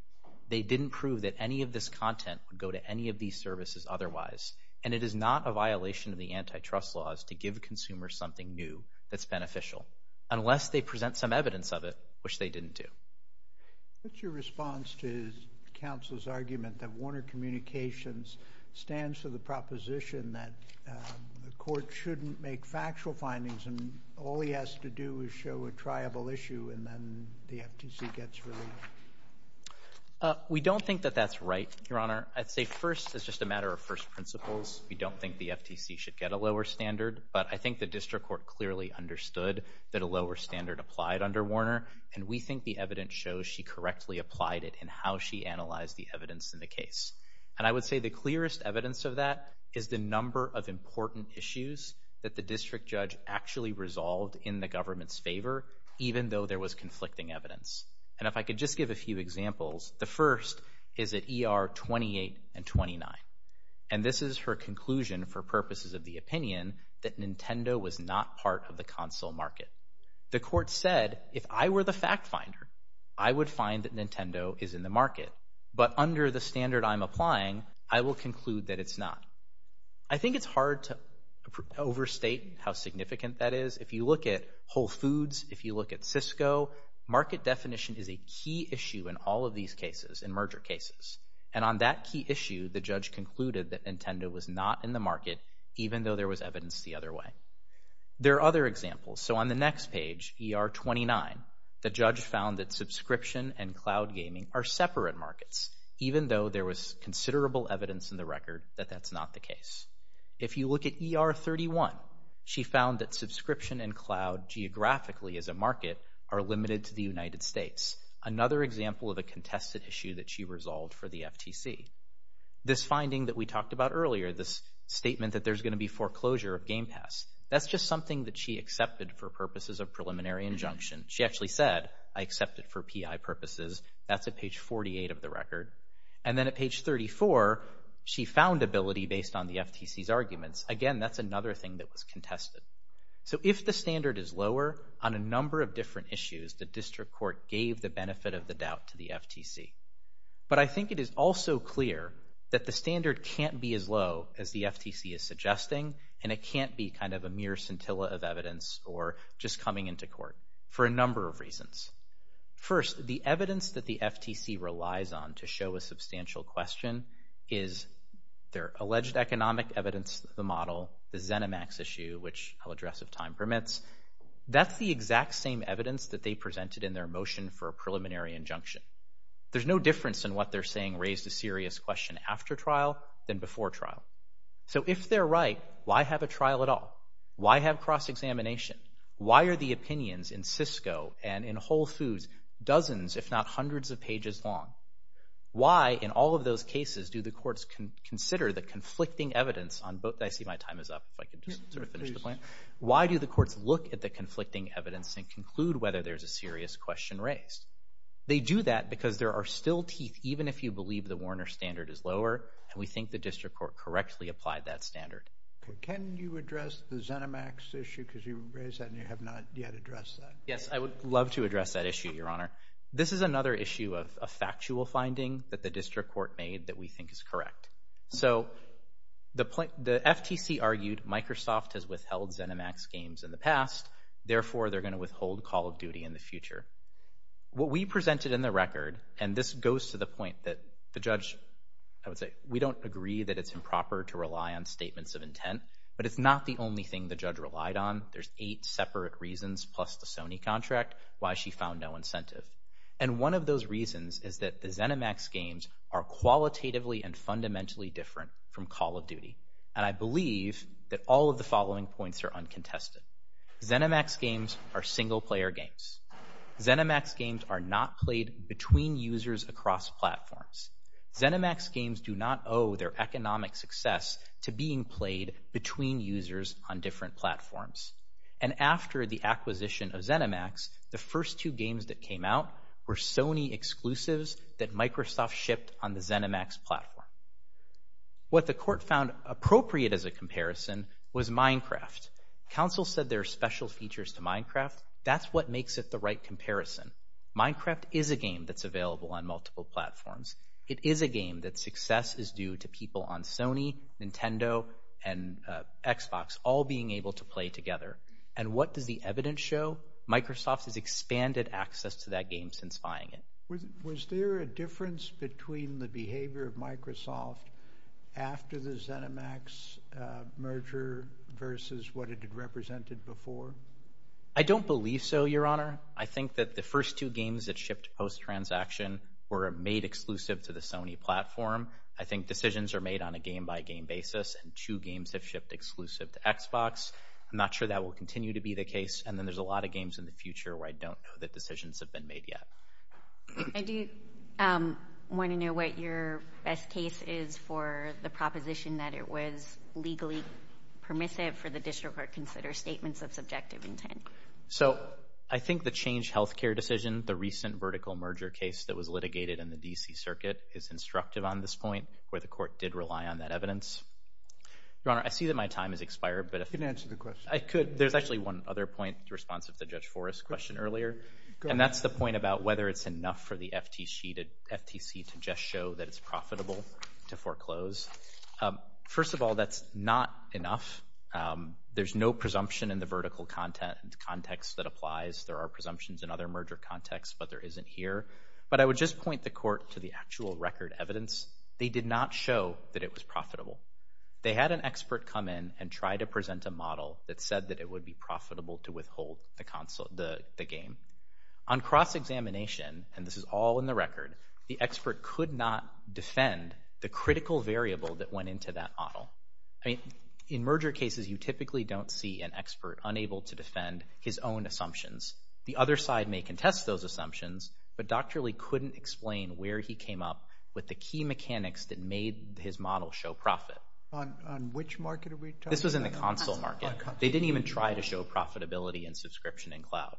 they didn't prove that any of this content would go to any of these services otherwise. And it is not a violation of the antitrust laws to give consumers something new that's beneficial, unless they present some evidence of it, which they didn't do. What's your response to counsel's argument that Warner Communications stands to the proposition that the court shouldn't make factual findings and all he has to do is show a triable issue and then the FTC gets relief? We don't think that that's right, Your Honor. I'd say first, it's just a matter of first principles. We don't think the FTC should get a lower standard, but I think the district court clearly understood that a lower standard applied under Warner, and we think the evidence shows she correctly applied it in how she analyzed the evidence in the case. And I would say the clearest evidence of that is the number of important issues that the district judge actually resolved in the government's favor, even though there was conflicting evidence. And if I could just give a few examples, the first is at ER 28 and 29. And this is her conclusion for purposes of the opinion that Nintendo was not part of the console market. The court said, if I were the fact finder, I would find that Nintendo is in the market, but under the standard I'm applying, I will conclude that it's not. I think it's hard to overstate how significant that is. If you look at Whole Foods, if you look at Cisco, market definition is a key issue in all of these cases, in merger cases. And on that key issue, the judge concluded that Nintendo was not in the market, even though there was evidence the other way. There are other examples. So on the next page, ER 29, the judge found that subscription and cloud gaming are separate markets, even though there was considerable evidence in the record that that's not the case. If you look at ER 31, she found that subscription and cloud geographically as a market are limited to the United States, another example of a contested issue that she resolved for the FTC. This finding that we talked about earlier, this statement that there's going to be foreclosure of GamePass, that's just something that she accepted for purposes of preliminary injunction. She actually said, I accept it for PI purposes. That's at page 48 of the record. And then at page 34, she found ability based on the FTC's arguments. Again, that's another thing that was contested. So if the standard is lower, on a number of different issues, the district court gave the benefit of the doubt to the FTC. But I think it is also clear that the standard can't be as low as the FTC is suggesting, and it can't be kind of a mere scintilla of evidence or just coming into court for a number of reasons. First, the evidence that the FTC relies on to show a substantial question is their alleged economic evidence of the model, the Xenomax issue, which I'll address if time permits. That's the exact same evidence that they presented in their motion for a preliminary injunction. There's no difference in what they're saying raised a serious question after trial than before trial. So if they're right, why have a trial at all? Why have cross-examination? Why are the opinions in Cisco and in Whole Foods dozens if not hundreds of pages long? Why, in all of those cases, do the courts consider the conflicting evidence on both... I see my time is up. Why do the courts look at the conflicting evidence and conclude whether there's a serious question raised? They do that because there are still teeth, even if you believe the Warner standard is lower, and we think the district court correctly applied that standard. Can you address the Xenomax issue? Because you raised that and you have not yet addressed that. Yes, I would love to address that issue, Your Honor. This is another issue of a factual finding that the district court made that we think is correct. So the FTC argued Microsoft has withheld Xenomax games in the past, therefore they're going to withhold Call of Duty in the future. What we presented in the record, and this goes to the point that the judge... We don't agree that it's improper to rely on statements of intent, but it's not the only thing the judge relied on. There's eight separate reasons, plus the Sony contract, why she found no incentive. And one of those reasons is that the Xenomax games are qualitatively and fundamentally different from Call of Duty, and I believe that all of the following points are uncontested. Xenomax games are single-player games. Xenomax games are not played between users across platforms. Xenomax games do not owe their economic success to being played between users on different platforms. And after the acquisition of Xenomax, the first two games that came out were Sony exclusives that Microsoft shipped on the Xenomax platform. What the court found appropriate as a comparison was Minecraft. Counsel said there are special features to Minecraft. That's what makes it the right comparison. Minecraft is a game that's available on multiple platforms. It is a game that success is due to people on Sony, Nintendo, and Xbox all being able to play together. And what does the evidence show? Microsoft has expanded access to that game since buying it. Was there a difference between the behavior of Microsoft after the Xenomax merger versus what it had represented before? I don't believe so, Your Honor. I think that the first two games that shipped post-transaction were made exclusive to the Sony platform. I think decisions are made on a game-by-game basis, and two games have shipped exclusive to Xbox. I'm not sure that will continue to be the case, and then there's a lot of games in the future where I don't know that decisions have been made yet. I do want to know what your best case is for the proposition that it was legally permissive for the district court to consider statements of subjective intent. I think the Change Healthcare decision, the recent vertical merger case that was litigated in the D.C. Circuit, is instructive on this point, where the court did rely on that evidence. Your Honor, I see that my time has expired. You can answer the question. There's actually one other point in response to the Judge Forrest question earlier, and that's the point about whether it's enough for the FTC to just show that it's profitable to foreclose. First of all, that's not enough. There's no presumption in the vertical context that applies. There are presumptions in other merger contexts, but there isn't here. But I would just point the court to the actual record evidence. They did not show that it was profitable. They had an expert come in and try to present a model that said that it would be profitable to withhold the game. On cross-examination, and this is all in the record, the expert could not defend the critical variable that went into that model. In merger cases, you typically don't see an expert unable to defend his own assumptions. The other side may contest those assumptions, but doctorally couldn't explain where he came up with the key mechanics that made his model show profit. On which market are we talking about? This was in the console market. They didn't even try to show profitability and subscription in cloud.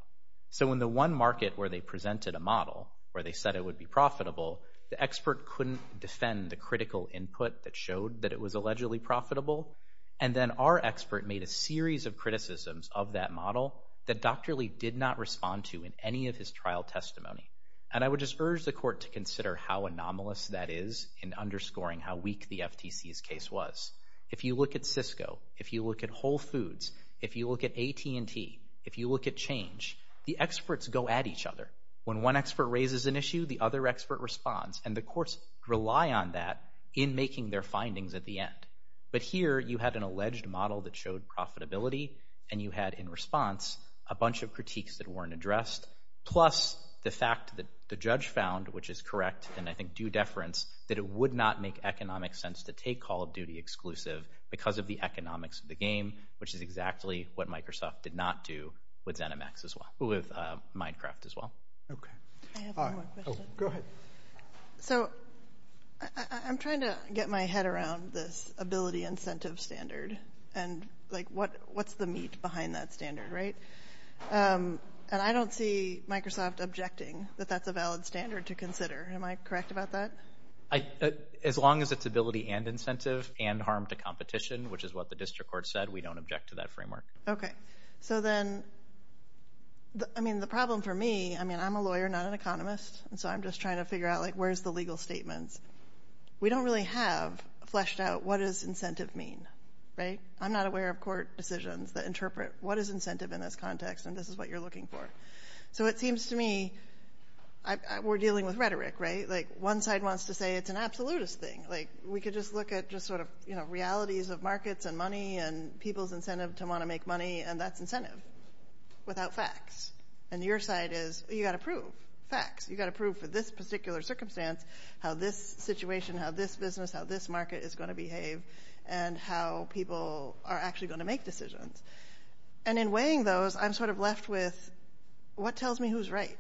So in the one market where they presented a model, where they said it would be profitable, the expert couldn't defend the critical input that showed that it was allegedly profitable. And then our expert made a series of criticisms of that model that doctorally did not respond to in any of his trial testimony. And I would just urge the court to consider how anomalous that is in underscoring how weak the FTC's case was. If you look at Cisco, if you look at Whole Foods, if you look at AT&T, if you look at Change, the experts go at each other. When one expert raises an issue, the other expert responds, and the courts rely on that in making their findings at the end. But here you had an alleged model that showed profitability, and you had in response a bunch of critiques that weren't addressed, plus the fact that the judge found, which is correct, and I think due deference, that it would not make economic sense to take Call of Duty exclusive because of the economics of the game, which is exactly what Microsoft did not do with Zenimax as well, with Minecraft as well. Okay. I have one more question. Go ahead. So I'm trying to get my head around this ability incentive standard, and what's the meat behind that standard, right? And I don't see Microsoft objecting that that's a valid standard to consider. Am I correct about that? As long as it's ability and incentive and harm to competition, which is what the district court said, we don't object to that framework. Okay. So then, I mean, the problem for me, I mean, I'm a lawyer, not an economist, so I'm just trying to figure out, like, where's the legal statement? We don't really have fleshed out what does incentive mean, right? I'm not aware of court decisions that interpret what is incentive in this context and this is what you're looking for. So it seems to me we're dealing with rhetoric, right? Like, one side wants to say it's an absolutist thing. Like, we could just look at just sort of realities of markets and money and people's incentive to want to make money, and that's incentive without facts. And your side is you've got to prove facts. You've got to prove for this particular circumstance how this situation, how this business, how this market is going to behave, and how people are actually going to make decisions. And in weighing those, I'm sort of left with what tells me who's right?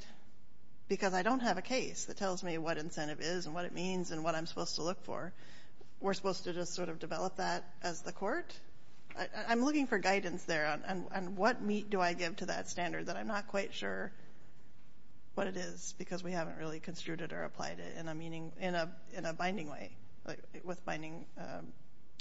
Because I don't have a case that tells me what incentive is and what it means and what I'm supposed to look for. We're supposed to just sort of develop that as the court? I'm looking for guidance there on what meat do I give to that standard that I'm not quite sure what it is because we haven't really construed it or applied it in a binding way with binding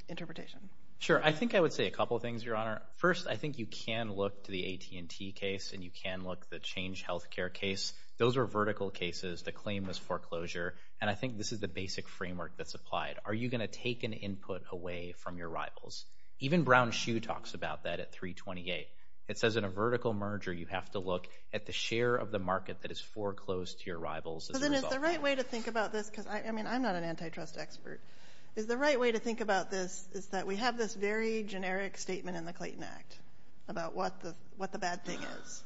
interpretation. Sure. I think I would say a couple of things, Your Honor. First, I think you can look to the AT&T case, and you can look to the change health care case. Those are vertical cases that claim this foreclosure, and I think this is the basic framework that's applied. Are you going to take an input away from your rivals? Even Brown-Hsu talks about that at 328. It says in a vertical merger you have to look at the share of the market that is foreclosed to your rivals as a result. So then is the right way to think about this, because I'm not an antitrust expert, is the right way to think about this is that we have this very generic statement in the Clayton Act about what the bad thing is,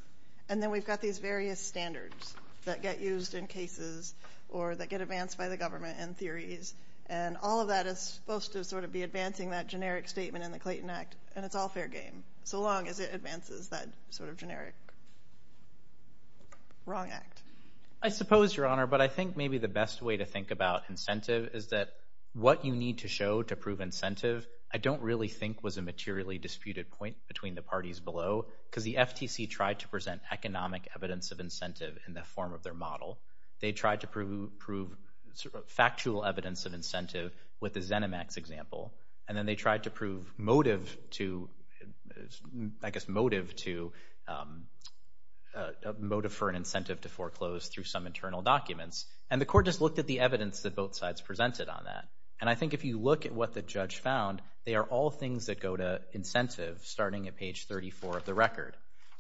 and then we've got these various standards that get used in cases or that get advanced by the government and theories, and all of that is supposed to sort of be advancing that generic statement in the Clayton Act, and it's all fair game so long as it advances that sort of generic wrong act. I suppose, Your Honor, but I think maybe the best way to think about incentive is that what you need to show to prove incentive I don't really think was a materially disputed point between the parties below, because the FTC tried to present economic evidence of incentive in the form of their model. They tried to prove factual evidence of incentive with the ZeniMax example, and then they tried to prove motive for an incentive to foreclose And I think if you look at what the judge found, they are all things that go to incentive starting at page 34 of the record.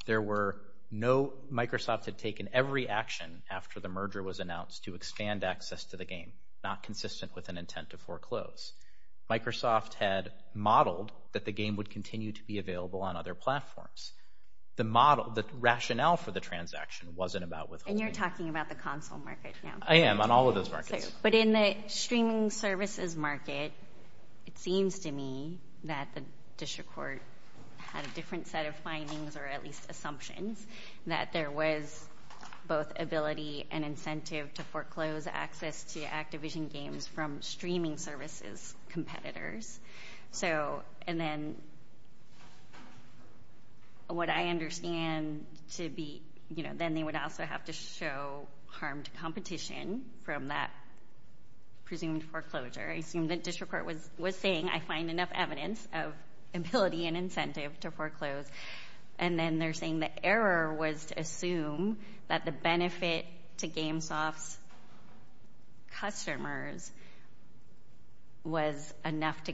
Microsoft had taken every action after the merger was announced to expand access to the game, not consistent with an intent to foreclose. Microsoft had modeled that the game would continue to be available on other platforms. The rationale for the transaction wasn't about withholding. And you're talking about the console market now. I am, on all of those markets. But in the streaming services market, it seems to me that the district court had a different set of findings, or at least assumptions, that there was both ability and incentive to foreclose access to Activision games from streaming services competitors. And then what I understand to be, then they would also have to show harmed competition from that presumed foreclosure. I assume the district court was saying, I find enough evidence of ability and incentive to foreclose. And then they're saying the error was to assume that the benefit to GameSoft's customers was enough to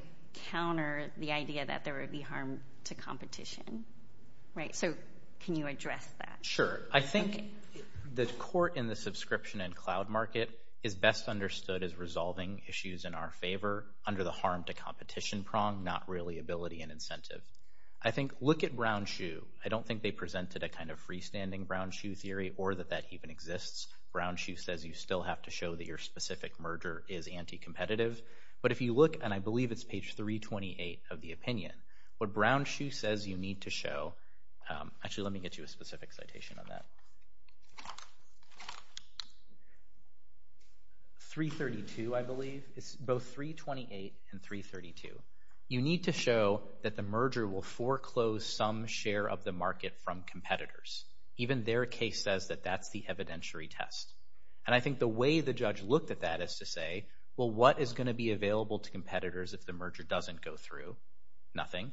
counter the idea that there would be harm to competition. So can you address that? Sure. I think the court in the subscription and cloud market is best understood as resolving issues in our favor under the harm to competition prong, not really ability and incentive. I think, look at BrownShu. I don't think they presented a kind of freestanding BrownShu theory or that that even exists. BrownShu says you still have to show that your specific merger is anti-competitive. But if you look, and I believe it's page 328 of the opinion, what BrownShu says you need to show, actually, let me get you a specific citation on that. 332, I believe. It's both 328 and 332. You need to show that the merger will foreclose some share of the market from competitors. Even their case says that that's the evidentiary test. And I think the way the judge looked at that is to say, well, what is going to be available to competitors if the merger doesn't go through? Nothing.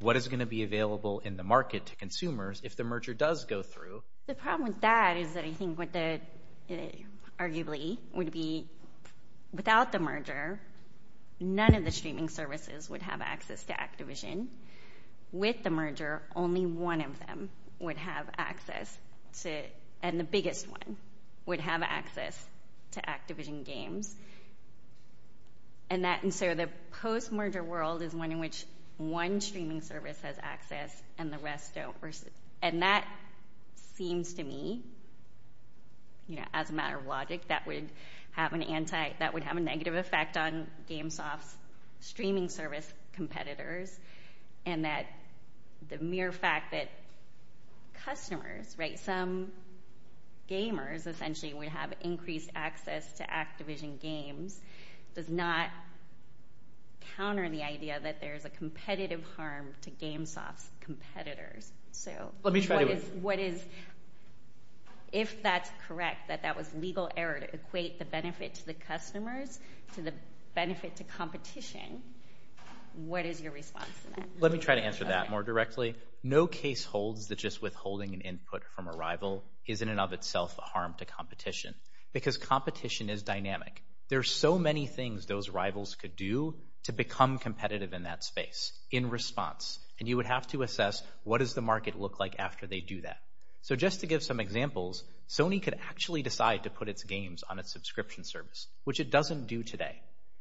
What is going to be available in the market to consumers if the merger does go through? The problem with that is that I think what the, arguably, would be without the merger, none of the streaming services would have access to Activision. With the merger, only one of them would have access to it, and the biggest one would have access to Activision games. And so the post-merger world is one in which one streaming service has access and the rest don't. And that seems to me, you know, as a matter of logic, that would have a negative effect on GameSoft's streaming service competitors, and that the mere fact that customers, right, some gamers, essentially, would have increased access to Activision games does not counter the idea that there's a competitive harm to GameSoft's competitors. So what is, if that's correct, that that was legal error to equate the benefit to the customers to the benefit to competition, what is your response to that? Let me try to answer that more directly. No case holds that just withholding an input from a rival isn't in and of itself a harm to competition, because competition is dynamic. There are so many things those rivals could do to become competitive in that space in response, and you would have to assess what does the market look like after they do that. So just to give some examples, Sony could actually decide to put its games on a subscription service, which it doesn't do today.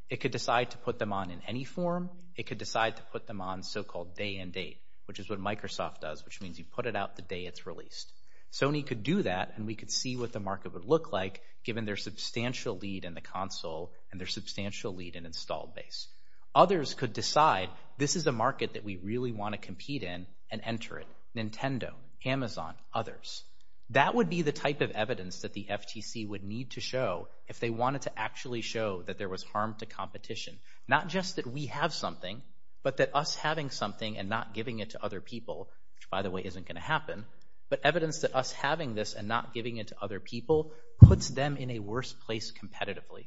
It could decide to put them on in any form. It could decide to put them on so-called day and date, which is what Microsoft does, which means you put it out the day it's released. Sony could do that, and we could see what the market would look like given their substantial lead in the console and their substantial lead in installed base. Others could decide this is a market that we really want to compete in and enter it, Nintendo, Amazon, others. That would be the type of evidence that the FTC would need to show if they wanted to actually show that there was harm to competition, not just that we have something, but that us having something and not giving it to other people, which by the way isn't going to happen, but evidence that us having this and not giving it to other people puts them in a worse place competitively.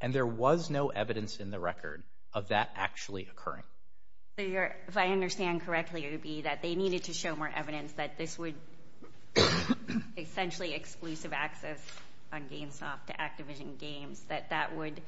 And there was no evidence in the record of that actually occurring. If I understand correctly, it would be that they needed to show more evidence that this would essentially exclusive access on GameSoft to Activision games, that that would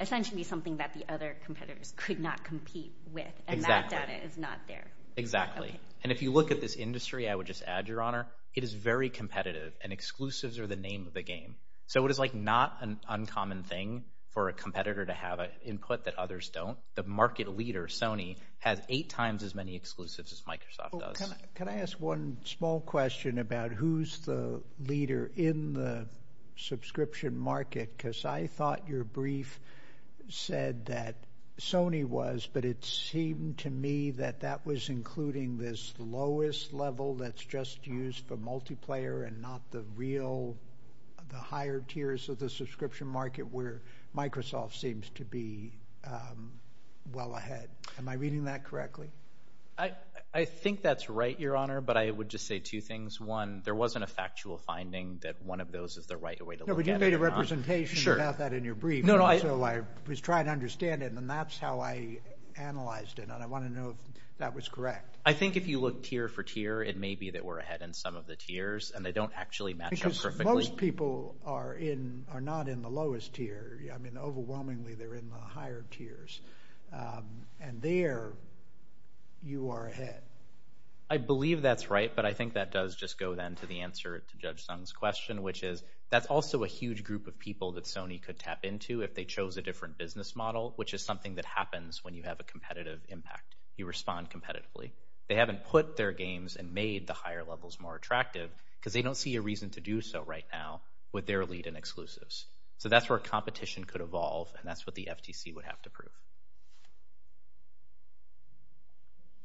essentially be something that the other competitors could not compete with, and that data is not there. Exactly. And if you look at this industry, I would just add, Your Honor, it is very competitive, and exclusives are the name of the game. So it is like not an uncommon thing for a competitor to have input that others don't. The market leader, Sony, has eight times as many exclusives as Microsoft does. Can I ask one small question about who's the leader in the subscription market? Because I thought your brief said that Sony was, but it seemed to me that that was including this lowest level that's just used for multiplayer and not the real, the higher tiers of the subscription market where Microsoft seems to be well ahead. Am I reading that correctly? I think that's right, Your Honor, but I would just say two things. One, there wasn't a factual finding that one of those is the right way to look at it, Your Honor. No, but you made a representation about that in your brief, so I was trying to understand it, and that's how I analyzed it. And I want to know if that was correct. I think if you look tier for tier, it may be that we're ahead in some of the tiers, and they don't actually match up perfectly. Because most people are not in the lowest tier. I mean, overwhelmingly, they're in the higher tiers. And there, you are ahead. I believe that's right, but I think that does just go then to the answer to Judge Sung's question, which is that's also a huge group of people that Sony could tap into if they chose a different business model, which is something that happens when you have a competitive impact. You respond competitively. They haven't put their games and made the higher levels more attractive because they don't see a reason to do so right now with their lead-in exclusives. So that's where competition could evolve, and that's what the FTC would have to prove.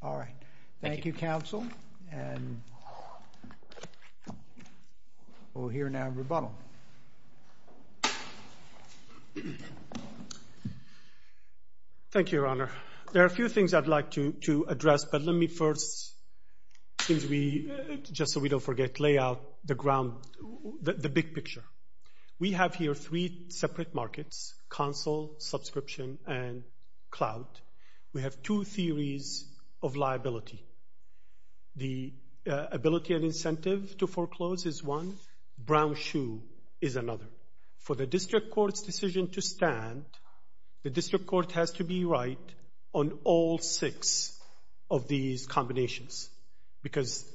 All right. Thank you, counsel. And we'll hear now rebuttal. Thank you, Your Honor. There are a few things I'd like to address, but let me first, just so we don't forget, lay out the big picture. We have here three separate markets, counsel, subscription, and cloud. We have two theories of liability. The ability and incentive to foreclose is one. Brown shoe is another. For the district court's decision to stand, the district court has to be right on all six of these combinations because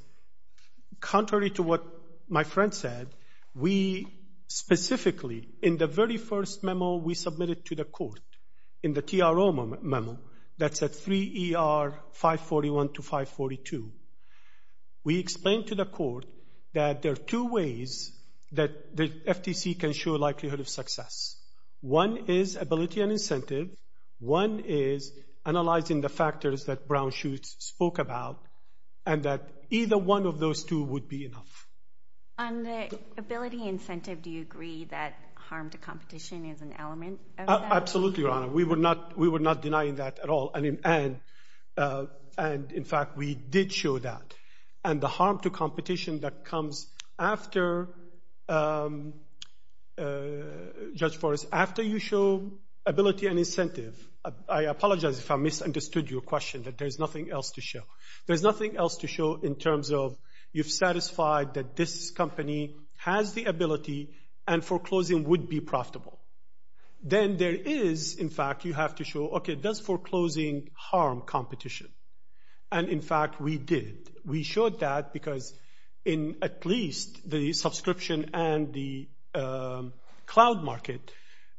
contrary to what my friend said, we specifically in the very first memo we submitted to the court, in the TRO memo, that's at 3 ER 541 to 542, we explained to the court that there are two ways that the FTC can show likelihood of success. One is ability and incentive. One is analyzing the factors that Brown shoes spoke about and that either one of those two would be enough. On the ability incentive, do you agree that harm to competition is an element of that? Absolutely, Your Honor. We were not denying that at all. And in fact, we did show that. And the harm to competition that comes after, Judge Forrest, after you show ability and incentive, I apologize if I misunderstood your question, that there's nothing else to show. There's nothing else to show in terms of you've satisfied that this company has the ability and foreclosing would be profitable. Then there is, in fact, you have to show, okay, that's foreclosing harm competition. And in fact, we did, we showed that because in at least the subscription and the cloud market,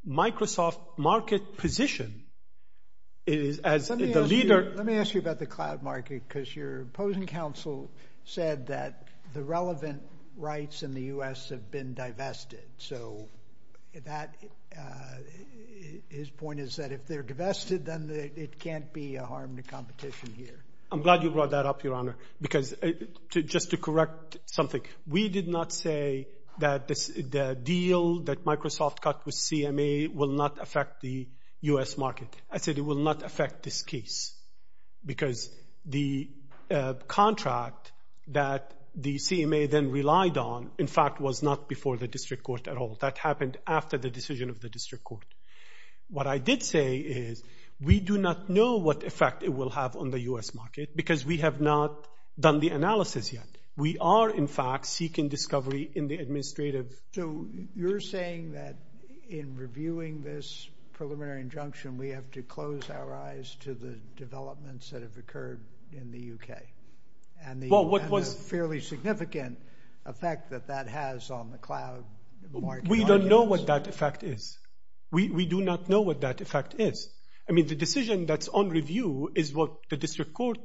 Microsoft market position is as the leader. Let me ask you about the cloud market because your opposing counsel said that the relevant rights in the U.S. have been divested. So his point is that if they're divested, then it can't be a harm to competition here. I'm glad you brought that up, Your Honor, because just to correct something, we did not say that the deal that Microsoft cut with CMA will not affect the U.S. market. I said it will not affect this case because the contract that the CMA then relied on, in fact, was not before the district court at all. That happened after the decision of the district court. What I did say is we do not know what effect it will have on the U.S. market because we have not done the analysis yet. We are, in fact, seeking discovery in the administrative. So you're saying that in reviewing this preliminary injunction, we have to close our eyes to the developments that have occurred in the U.K. and the fairly significant effect that that has on the cloud? We don't know what that effect is. We do not know what that effect is. I mean, the decision that's on review is what the district court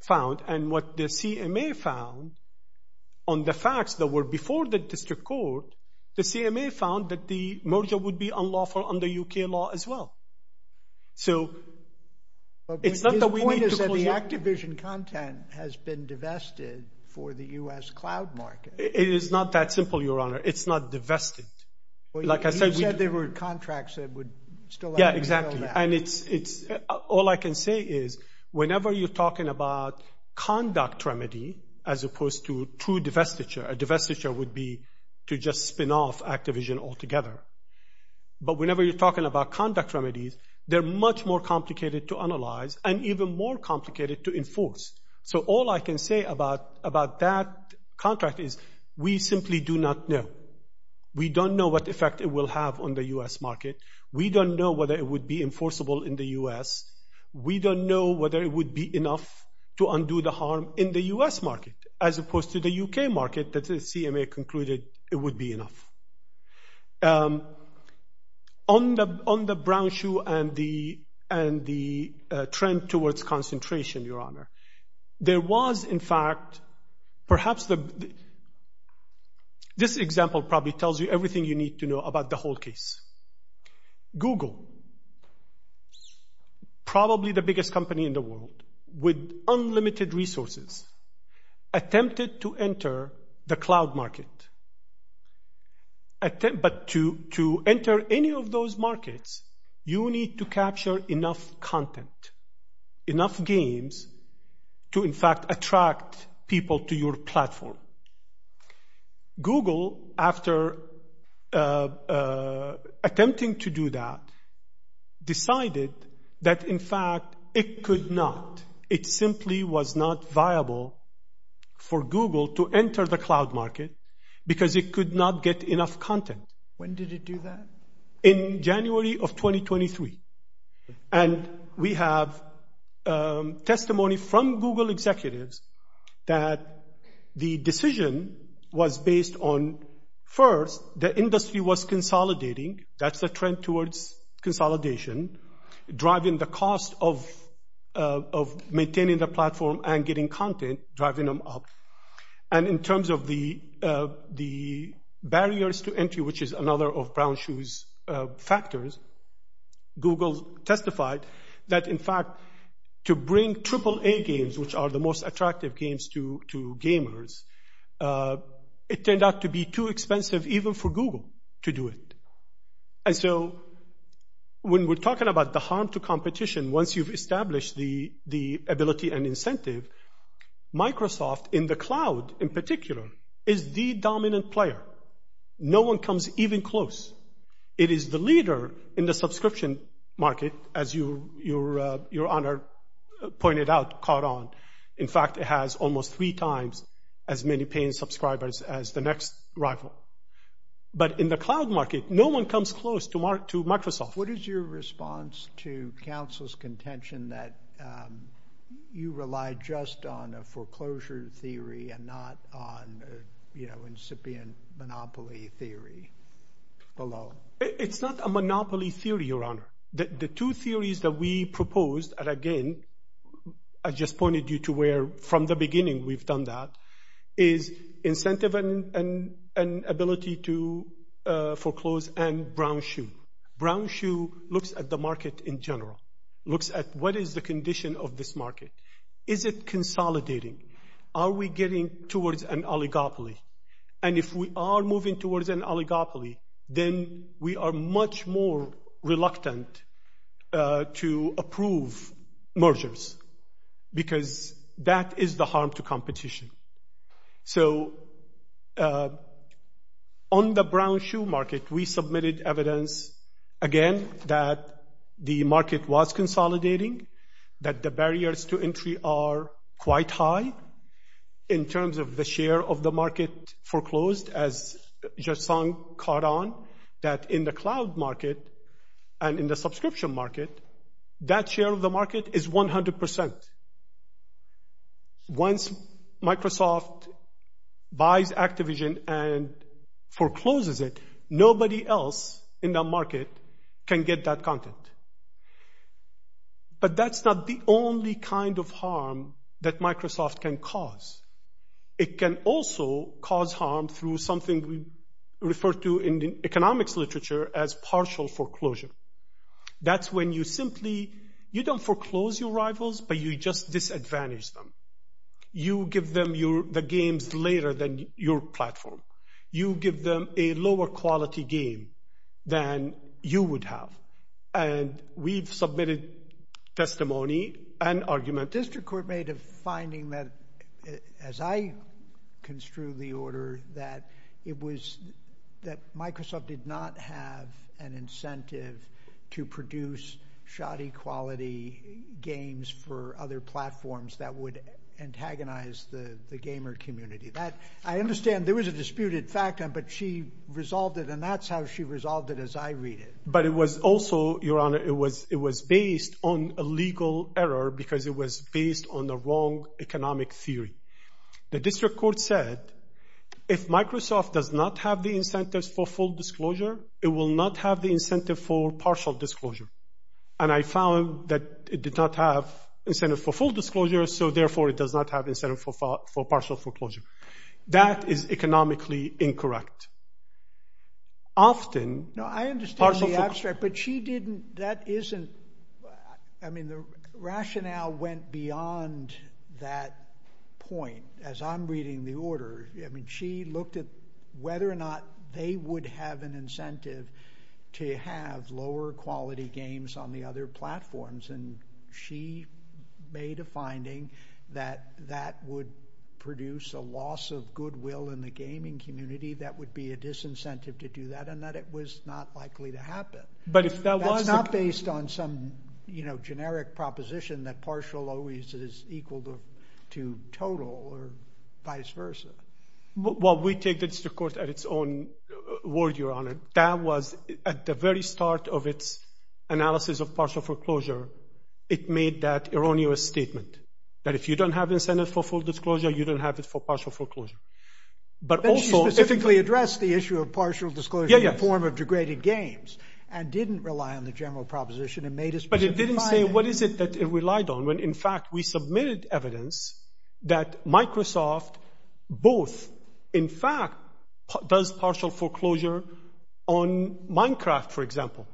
found, and what the CMA found on the facts that were before the district court, the CMA found that the merger would be unlawful under U.K. law as well. But the point is that the Activision content has been divested for the U.S. cloud market. It is not that simple, Your Honor. It's not divested. You said there were contracts that would still allow you to do that. Yeah, exactly. All I can say is whenever you're talking about conduct remedy as opposed to true divestiture, divestiture would be to just spin off Activision altogether. But whenever you're talking about conduct remedies, they're much more complicated to analyze and even more complicated to enforce. So all I can say about that contract is we simply do not know. We don't know what effect it will have on the U.S. market. We don't know whether it would be enforceable in the U.S. We don't know whether it would be enough to undo the harm in the U.S. market as opposed to the U.K. market that the CMA concluded it would be enough. On the brown shoe and the trend towards concentration, Your Honor, there was, in fact, perhaps this example probably tells you everything you need to know about the whole case. Google, probably the biggest company in the world with unlimited resources, attempted to enter the cloud market. But to enter any of those markets, you need to capture enough content, enough games to, in fact, attract people to your platform. Google, after attempting to do that, decided that, in fact, it could not. It simply was not viable for Google to enter the cloud market because it could not get enough content. When did it do that? In January of 2023. And we have testimony from Google executives that the decision was based on, first, the industry was consolidating. That's the trend towards consolidation, driving the cost of maintaining the platform and getting content, driving them up. And in terms of the barriers to entry, which is another of brown shoe's factors, Google testified that, in fact, to bring AAA games, which are the most attractive games to gamers, it turned out to be too expensive even for Google to do it. And so when we're talking about the harm to competition, once you've established the ability and incentive, Microsoft in the cloud, in particular, is the dominant player. No one comes even close. It is the leader in the subscription market, as your honor pointed out, caught on. In fact, it has almost three times as many paying subscribers as the next rival. But in the cloud market, no one comes close to Microsoft. What is your response to counsel's contention that you rely just on a foreclosure theory and not on, you know, incipient monopoly theory below? The two theories that we proposed, and again, I just pointed you to where from the beginning we've done that, is incentive and ability to foreclose and brown shoe. Brown shoe looks at the market in general, looks at what is the condition of this market. Is it consolidating? Are we getting towards an oligopoly? And if we are moving towards an oligopoly, then we are much more reluctant to approve mergers because that is the harm to competition. So on the brown shoe market, we submitted evidence again that the market was consolidating, that the barriers to entry are quite high in terms of the share of the market foreclosed, as just caught on that in the cloud market and in the subscription market, that share of the market is 100 percent. Once Microsoft buys Activision and forecloses it, nobody else in the market can get that content. But that's not the only kind of harm that Microsoft can cause. It can also cause harm through something we refer to in the economics literature as partial foreclosure. That's when you simply you don't foreclose your rivals, but you just disadvantage them. You give them the games later than your platform. You give them a lower quality game than you would have. And we've submitted testimony and argument. District Court made a finding that, as I construe the order, that it was that Microsoft did not have an incentive to produce shoddy quality games for other platforms that would antagonize the gamer community. I understand there was a disputed fact, but she resolved it, and that's how she resolved it, as I read it. But it was also, Your Honor, it was based on a legal error, because it was based on the wrong economic theory. The District Court said, if Microsoft does not have the incentives for full disclosure, it will not have the incentive for partial disclosure. And I found that it did not have incentive for full disclosure, so therefore it does not have incentive for partial foreclosure. That is economically incorrect. Often, partial foreclosure... No, I understand the abstract, but she didn't, that isn't, I mean, the rationale went beyond that point. As I'm reading the order, I mean, she looked at whether or not they would have an incentive to have lower quality games on the other platforms, and she made a finding that that would produce a loss of goodwill in the gaming community, that would be a disincentive to do that, and that it was not likely to happen. But if that was... That's not based on some, you know, generic proposition that partial always is equal to total, or vice versa. Well, we take the District Court at its own word, Your Honor. That was, at the very start of its analysis of partial foreclosure, it made that erroneous statement, that if you don't have incentive for full disclosure, you don't have it for partial foreclosure. But also... But she specifically addressed the issue of partial disclosure in the form of degraded games, and didn't rely on the general proposition and made a specific finding. But it didn't say what is it that it relied on, when in fact we submitted evidence that Microsoft both, in fact, does partial foreclosure on Minecraft, for example.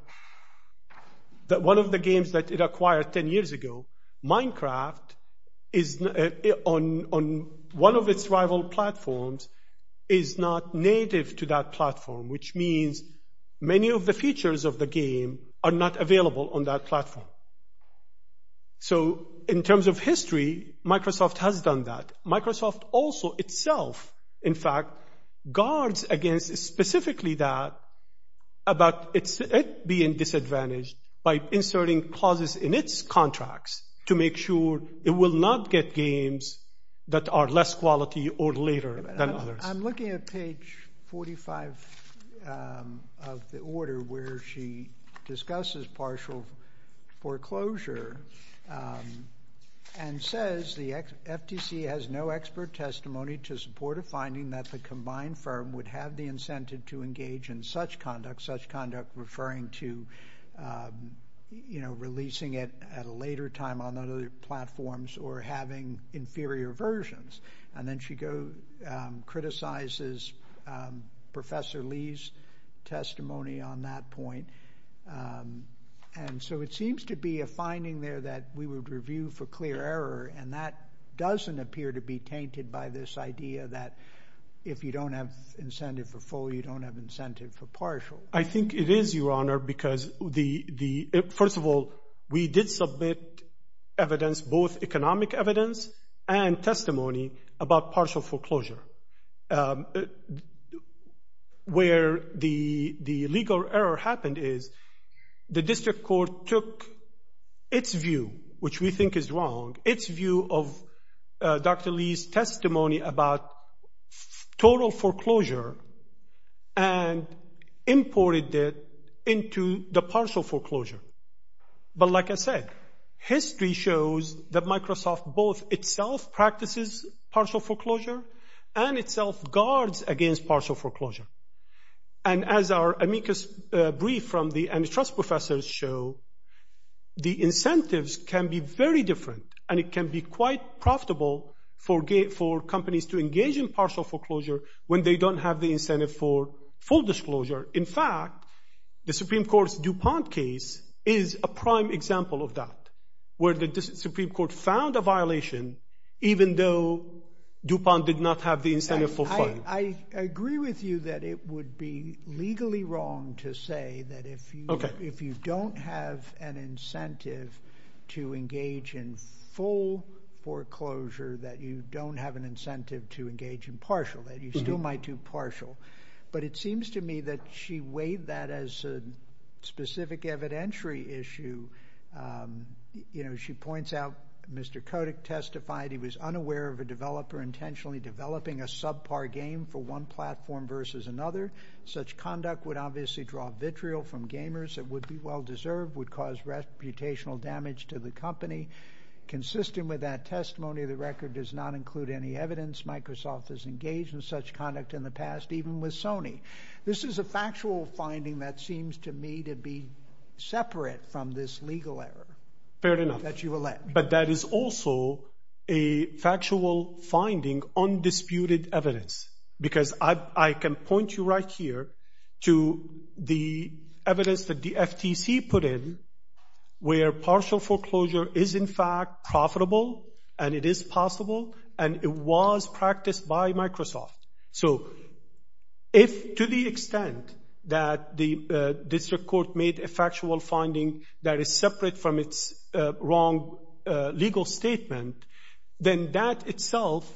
That one of the games that it acquired 10 years ago, Minecraft, on one of its rival platforms, is not native to that platform, which means many of the features of the game are not available on that platform. So, in terms of history, Microsoft has done that. Microsoft also itself, in fact, guards against specifically that, about it being disadvantaged by inserting clauses in its contracts to make sure it will not get games that are less quality or later than others. I'm looking at page 45 of the order where she discusses partial foreclosure and says the FTC has no expert testimony to support a finding that the combined firm would have the incentive to engage in such conduct, such conduct referring to releasing it at a later time on other platforms or having inferior versions. And then she criticizes Professor Lee's testimony on that point. And so it seems to be a finding there that we would review for clear error and that doesn't appear to be tainted by this idea that if you don't have incentive for full, you don't have incentive for partial. I think it is, Your Honor, because first of all, we did submit evidence, both economic evidence and testimony, about partial foreclosure. Where the legal error happened is the district court took its view, which we think is wrong, its view of Dr. Lee's testimony about total foreclosure and imported it into the partial foreclosure. But like I said, history shows that Microsoft both itself practices partial foreclosure and itself guards against partial foreclosure. And as our amicus brief from the antitrust professors show, the incentives can be very different and it can be quite profitable for companies to engage in partial foreclosure when they don't have the incentive for full disclosure. In fact, the Supreme Court's DuPont case is a prime example of that, where the Supreme Court found a violation even though DuPont did not have the incentive for full. I agree with you that it would be legally wrong to say that if you don't have an incentive to engage in full foreclosure, that you don't have an incentive to engage in partial, that you still might do partial. But it seems to me that she weighed that as a specific evidentiary issue She points out, Mr. Kotick testified, he was unaware of a developer intentionally developing a subpar game for one platform versus another. Such conduct would obviously draw vitriol from gamers that would be well-deserved, would cause reputational damage to the company. Consistent with that testimony, the record does not include any evidence This is a factual finding that seems to me to be separate from this legal error. Fair enough. But that is also a factual finding, undisputed evidence. Because I can point you right here to the evidence that the FTC put in where partial foreclosure is in fact profitable, and it is possible, and it was practiced by Microsoft. So, if to the extent that the district court made a factual finding that is separate from its wrong legal statement, then that itself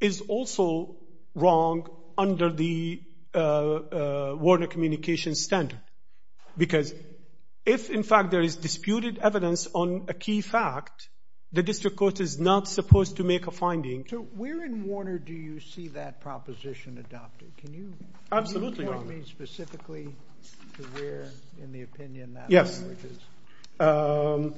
is also wrong under the Warner Communications standard. Because if in fact there is disputed evidence on a key fact, the district court is not supposed to make a finding. So where in Warner do you see that proposition adopted? Can you tell me specifically where in the opinion that emerges? Yes.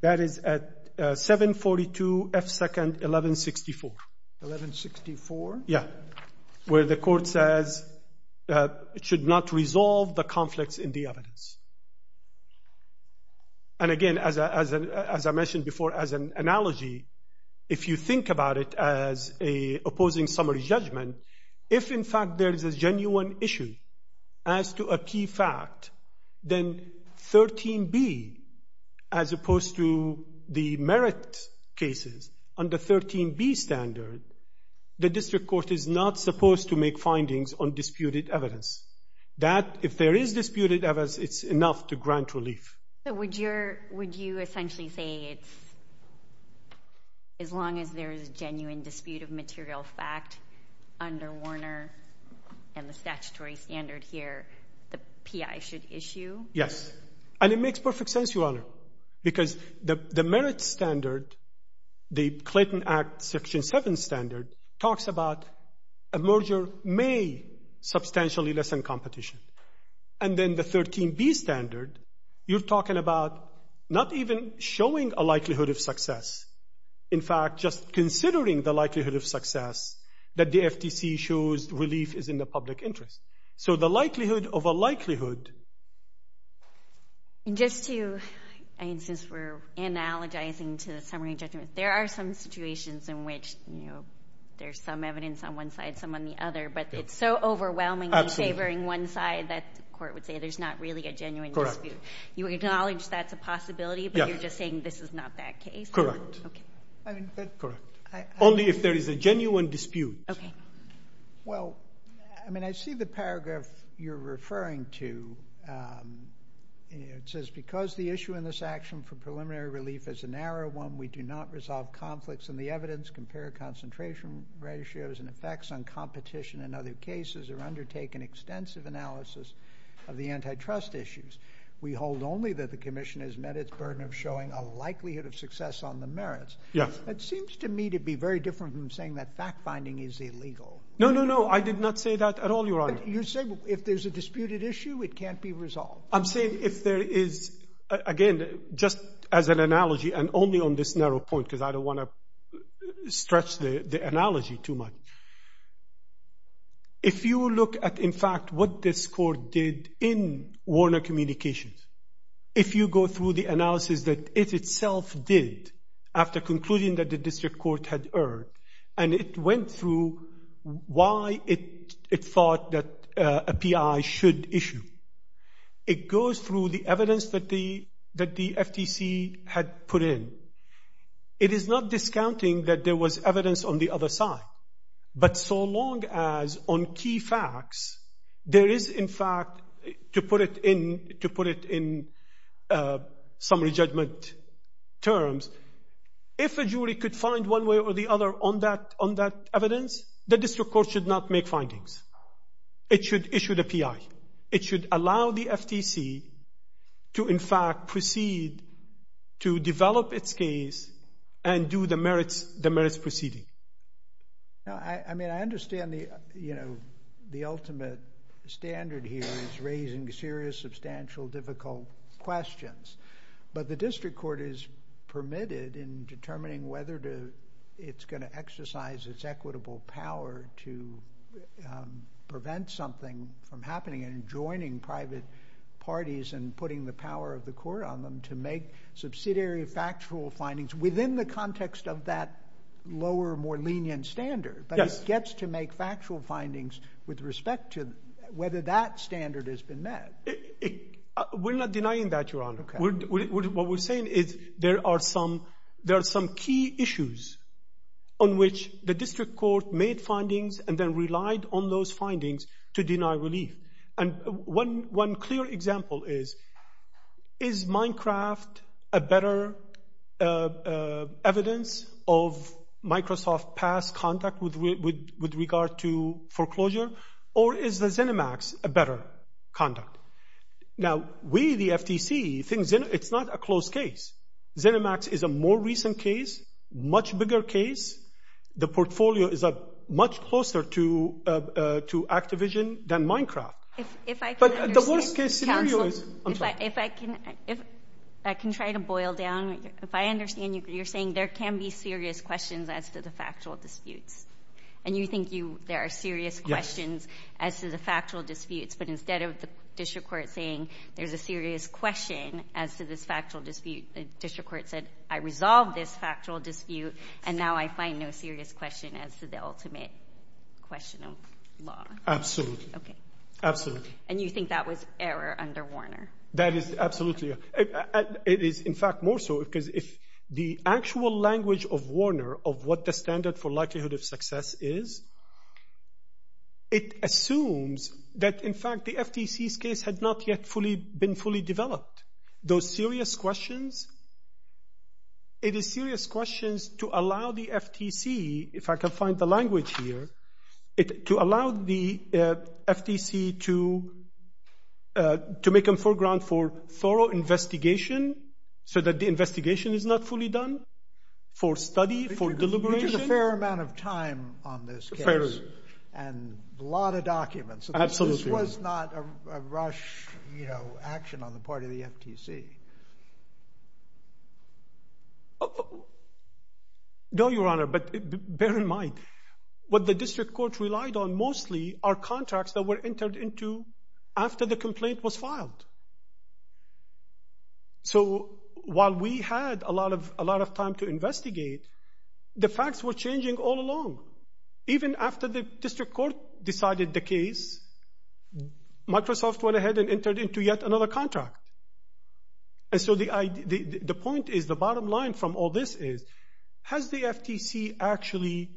That is at 742 F2nd 1164. 1164? Yes. Where the court says it should not resolve the conflicts in the evidence. And again, as I mentioned before, as an analogy, if you think about it as an opposing summary judgment, if in fact there is a genuine issue as to a key fact, then 13B, as opposed to the merit cases, under 13B standard, the district court is not supposed to make findings on disputed evidence. If there is disputed evidence, it's enough to grant relief. So would you essentially say it's as long as there is a genuine dispute of material fact under Warner and the statutory standard here, the PI should issue? Yes. And it makes perfect sense, Your Honor, because the merit standard, the Clayton Act Section 7 standard, talks about a merger may substantially lessen competition. And then the 13B standard, you're talking about not even showing a likelihood of success. In fact, just considering the likelihood of success that the FTC shows relief is in the public interest. So the likelihood of a likelihood. And just to, I mean, since we're analogizing to the summary judgment, there are some situations in which there's some evidence on one side, some on the other, but it's so overwhelming and favoring one side that the court would say there's not really a genuine dispute. You acknowledge that's a possibility, but you're just saying this is not that case? Correct. Okay. Only if there is a genuine dispute. Okay. Well, I mean, I see the paragraph you're referring to. It says, because the issue in this action for preliminary relief is a narrow one, we do not resolve conflicts in the evidence, compare concentration ratios and effects on competition in other cases or undertake an extensive analysis of the antitrust issues. We hold only that the commission has met its burden of showing a likelihood of success on the merits. It seems to me to be very different from saying that fact finding is illegal. No, no, no. I did not say that at all. Your honor. You said if there's a disputed issue, it can't be resolved. I'm saying if there is, again, just as an analogy and only on this narrow point, because I don't want to stress the analogy too much. If you look at, in fact, what this court did in Warner communications, if you go through the analysis that it itself did after concluding that the why it, it thought that a PI should issue, it goes through the evidence that the, that the FTC had put in. It is not discounting that there was evidence on the other side, but so long as on key facts, there is in fact to put it in, to put it in summary judgment terms, if a jury could find one way or the other on that, on that evidence, the district court should not make findings. It should issue the PI. It should allow the FTC to, in fact, proceed to develop its case and do the merits, the merits proceeding. I mean, I understand the, you know, the ultimate standard here is raising serious, substantial, difficult questions, but the district court is permitted in determining whether to, it's going to exercise its equitable power to prevent something from happening and joining private parties and putting the power of the court on them to make subsidiary factual findings within the context of that lower, more lenient standard, but it gets to make factual findings with respect to whether that standard has been met. We're not denying that you're on. What we're saying is there are some, some key issues on which the district court made findings and then relied on those findings to deny relief. And one, one clear example is, is Minecraft a better evidence of Microsoft past contact with, with, with regard to foreclosure or is the Xenomax a better conduct? Now we, the FTC thinks it's not a close case. Xenomax is a more recent case, much bigger case. The portfolio is a much closer to, to Activision than Minecraft. If I can try to boil down, if I understand you, you're saying there can be serious questions as to the factual disputes and you think you, there are serious questions as to the factual disputes, but instead of the district court thing, there's a serious question as to this factual dispute. The district court said, I resolved this factual dispute and now I find no serious question as to the ultimate question of law. Absolutely. Okay. Absolutely. And you think that was error under Warner? That is absolutely. It is in fact more so because if the actual language of Warner of what the standard for likelihood of success is, it assumes that in fact, the FTC's case had not yet fully been fully developed. Those serious questions, it is serious questions to allow the FTC, if I can find the language here, to allow the FTC to, to make them foreground for thorough investigation so that the investigation is not fully done for study, for deliberation. There's a fair amount of time on this case and a lot of documents. This was not a rush, you know, action on the part of the FTC. No, Your Honor, but bear in mind what the district court relied on. Mostly our contracts that were entered into after the complaint was filed. So while we had a lot of, a lot of time to investigate, the facts were changing all along. Even after the district court decided the case, Microsoft went ahead and entered into yet another contract. And so the, the point is the bottom line from all this is, has the FTC actually,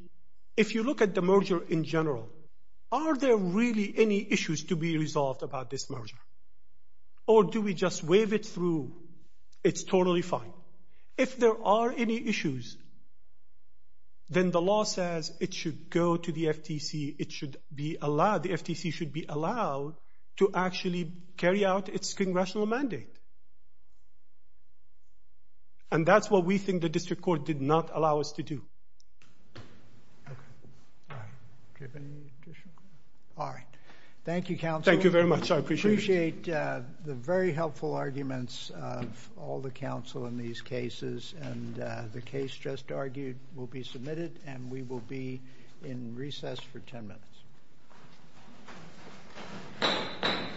if you look at the merger in general, are there really any issues to be resolved about this merger? Or do we just wave it through? It's totally fine. If there are any issues, then the law says it should go to the FTC. It should be allowed. The FTC should be allowed to actually carry out its congressional mandate. And that's what we think the district court did not allow us to do. All right. Thank you counsel. Thank you very much. I appreciate the very helpful arguments. All the counsel in these cases and the case just argued will be submitted and we will be in recess for 10 minutes.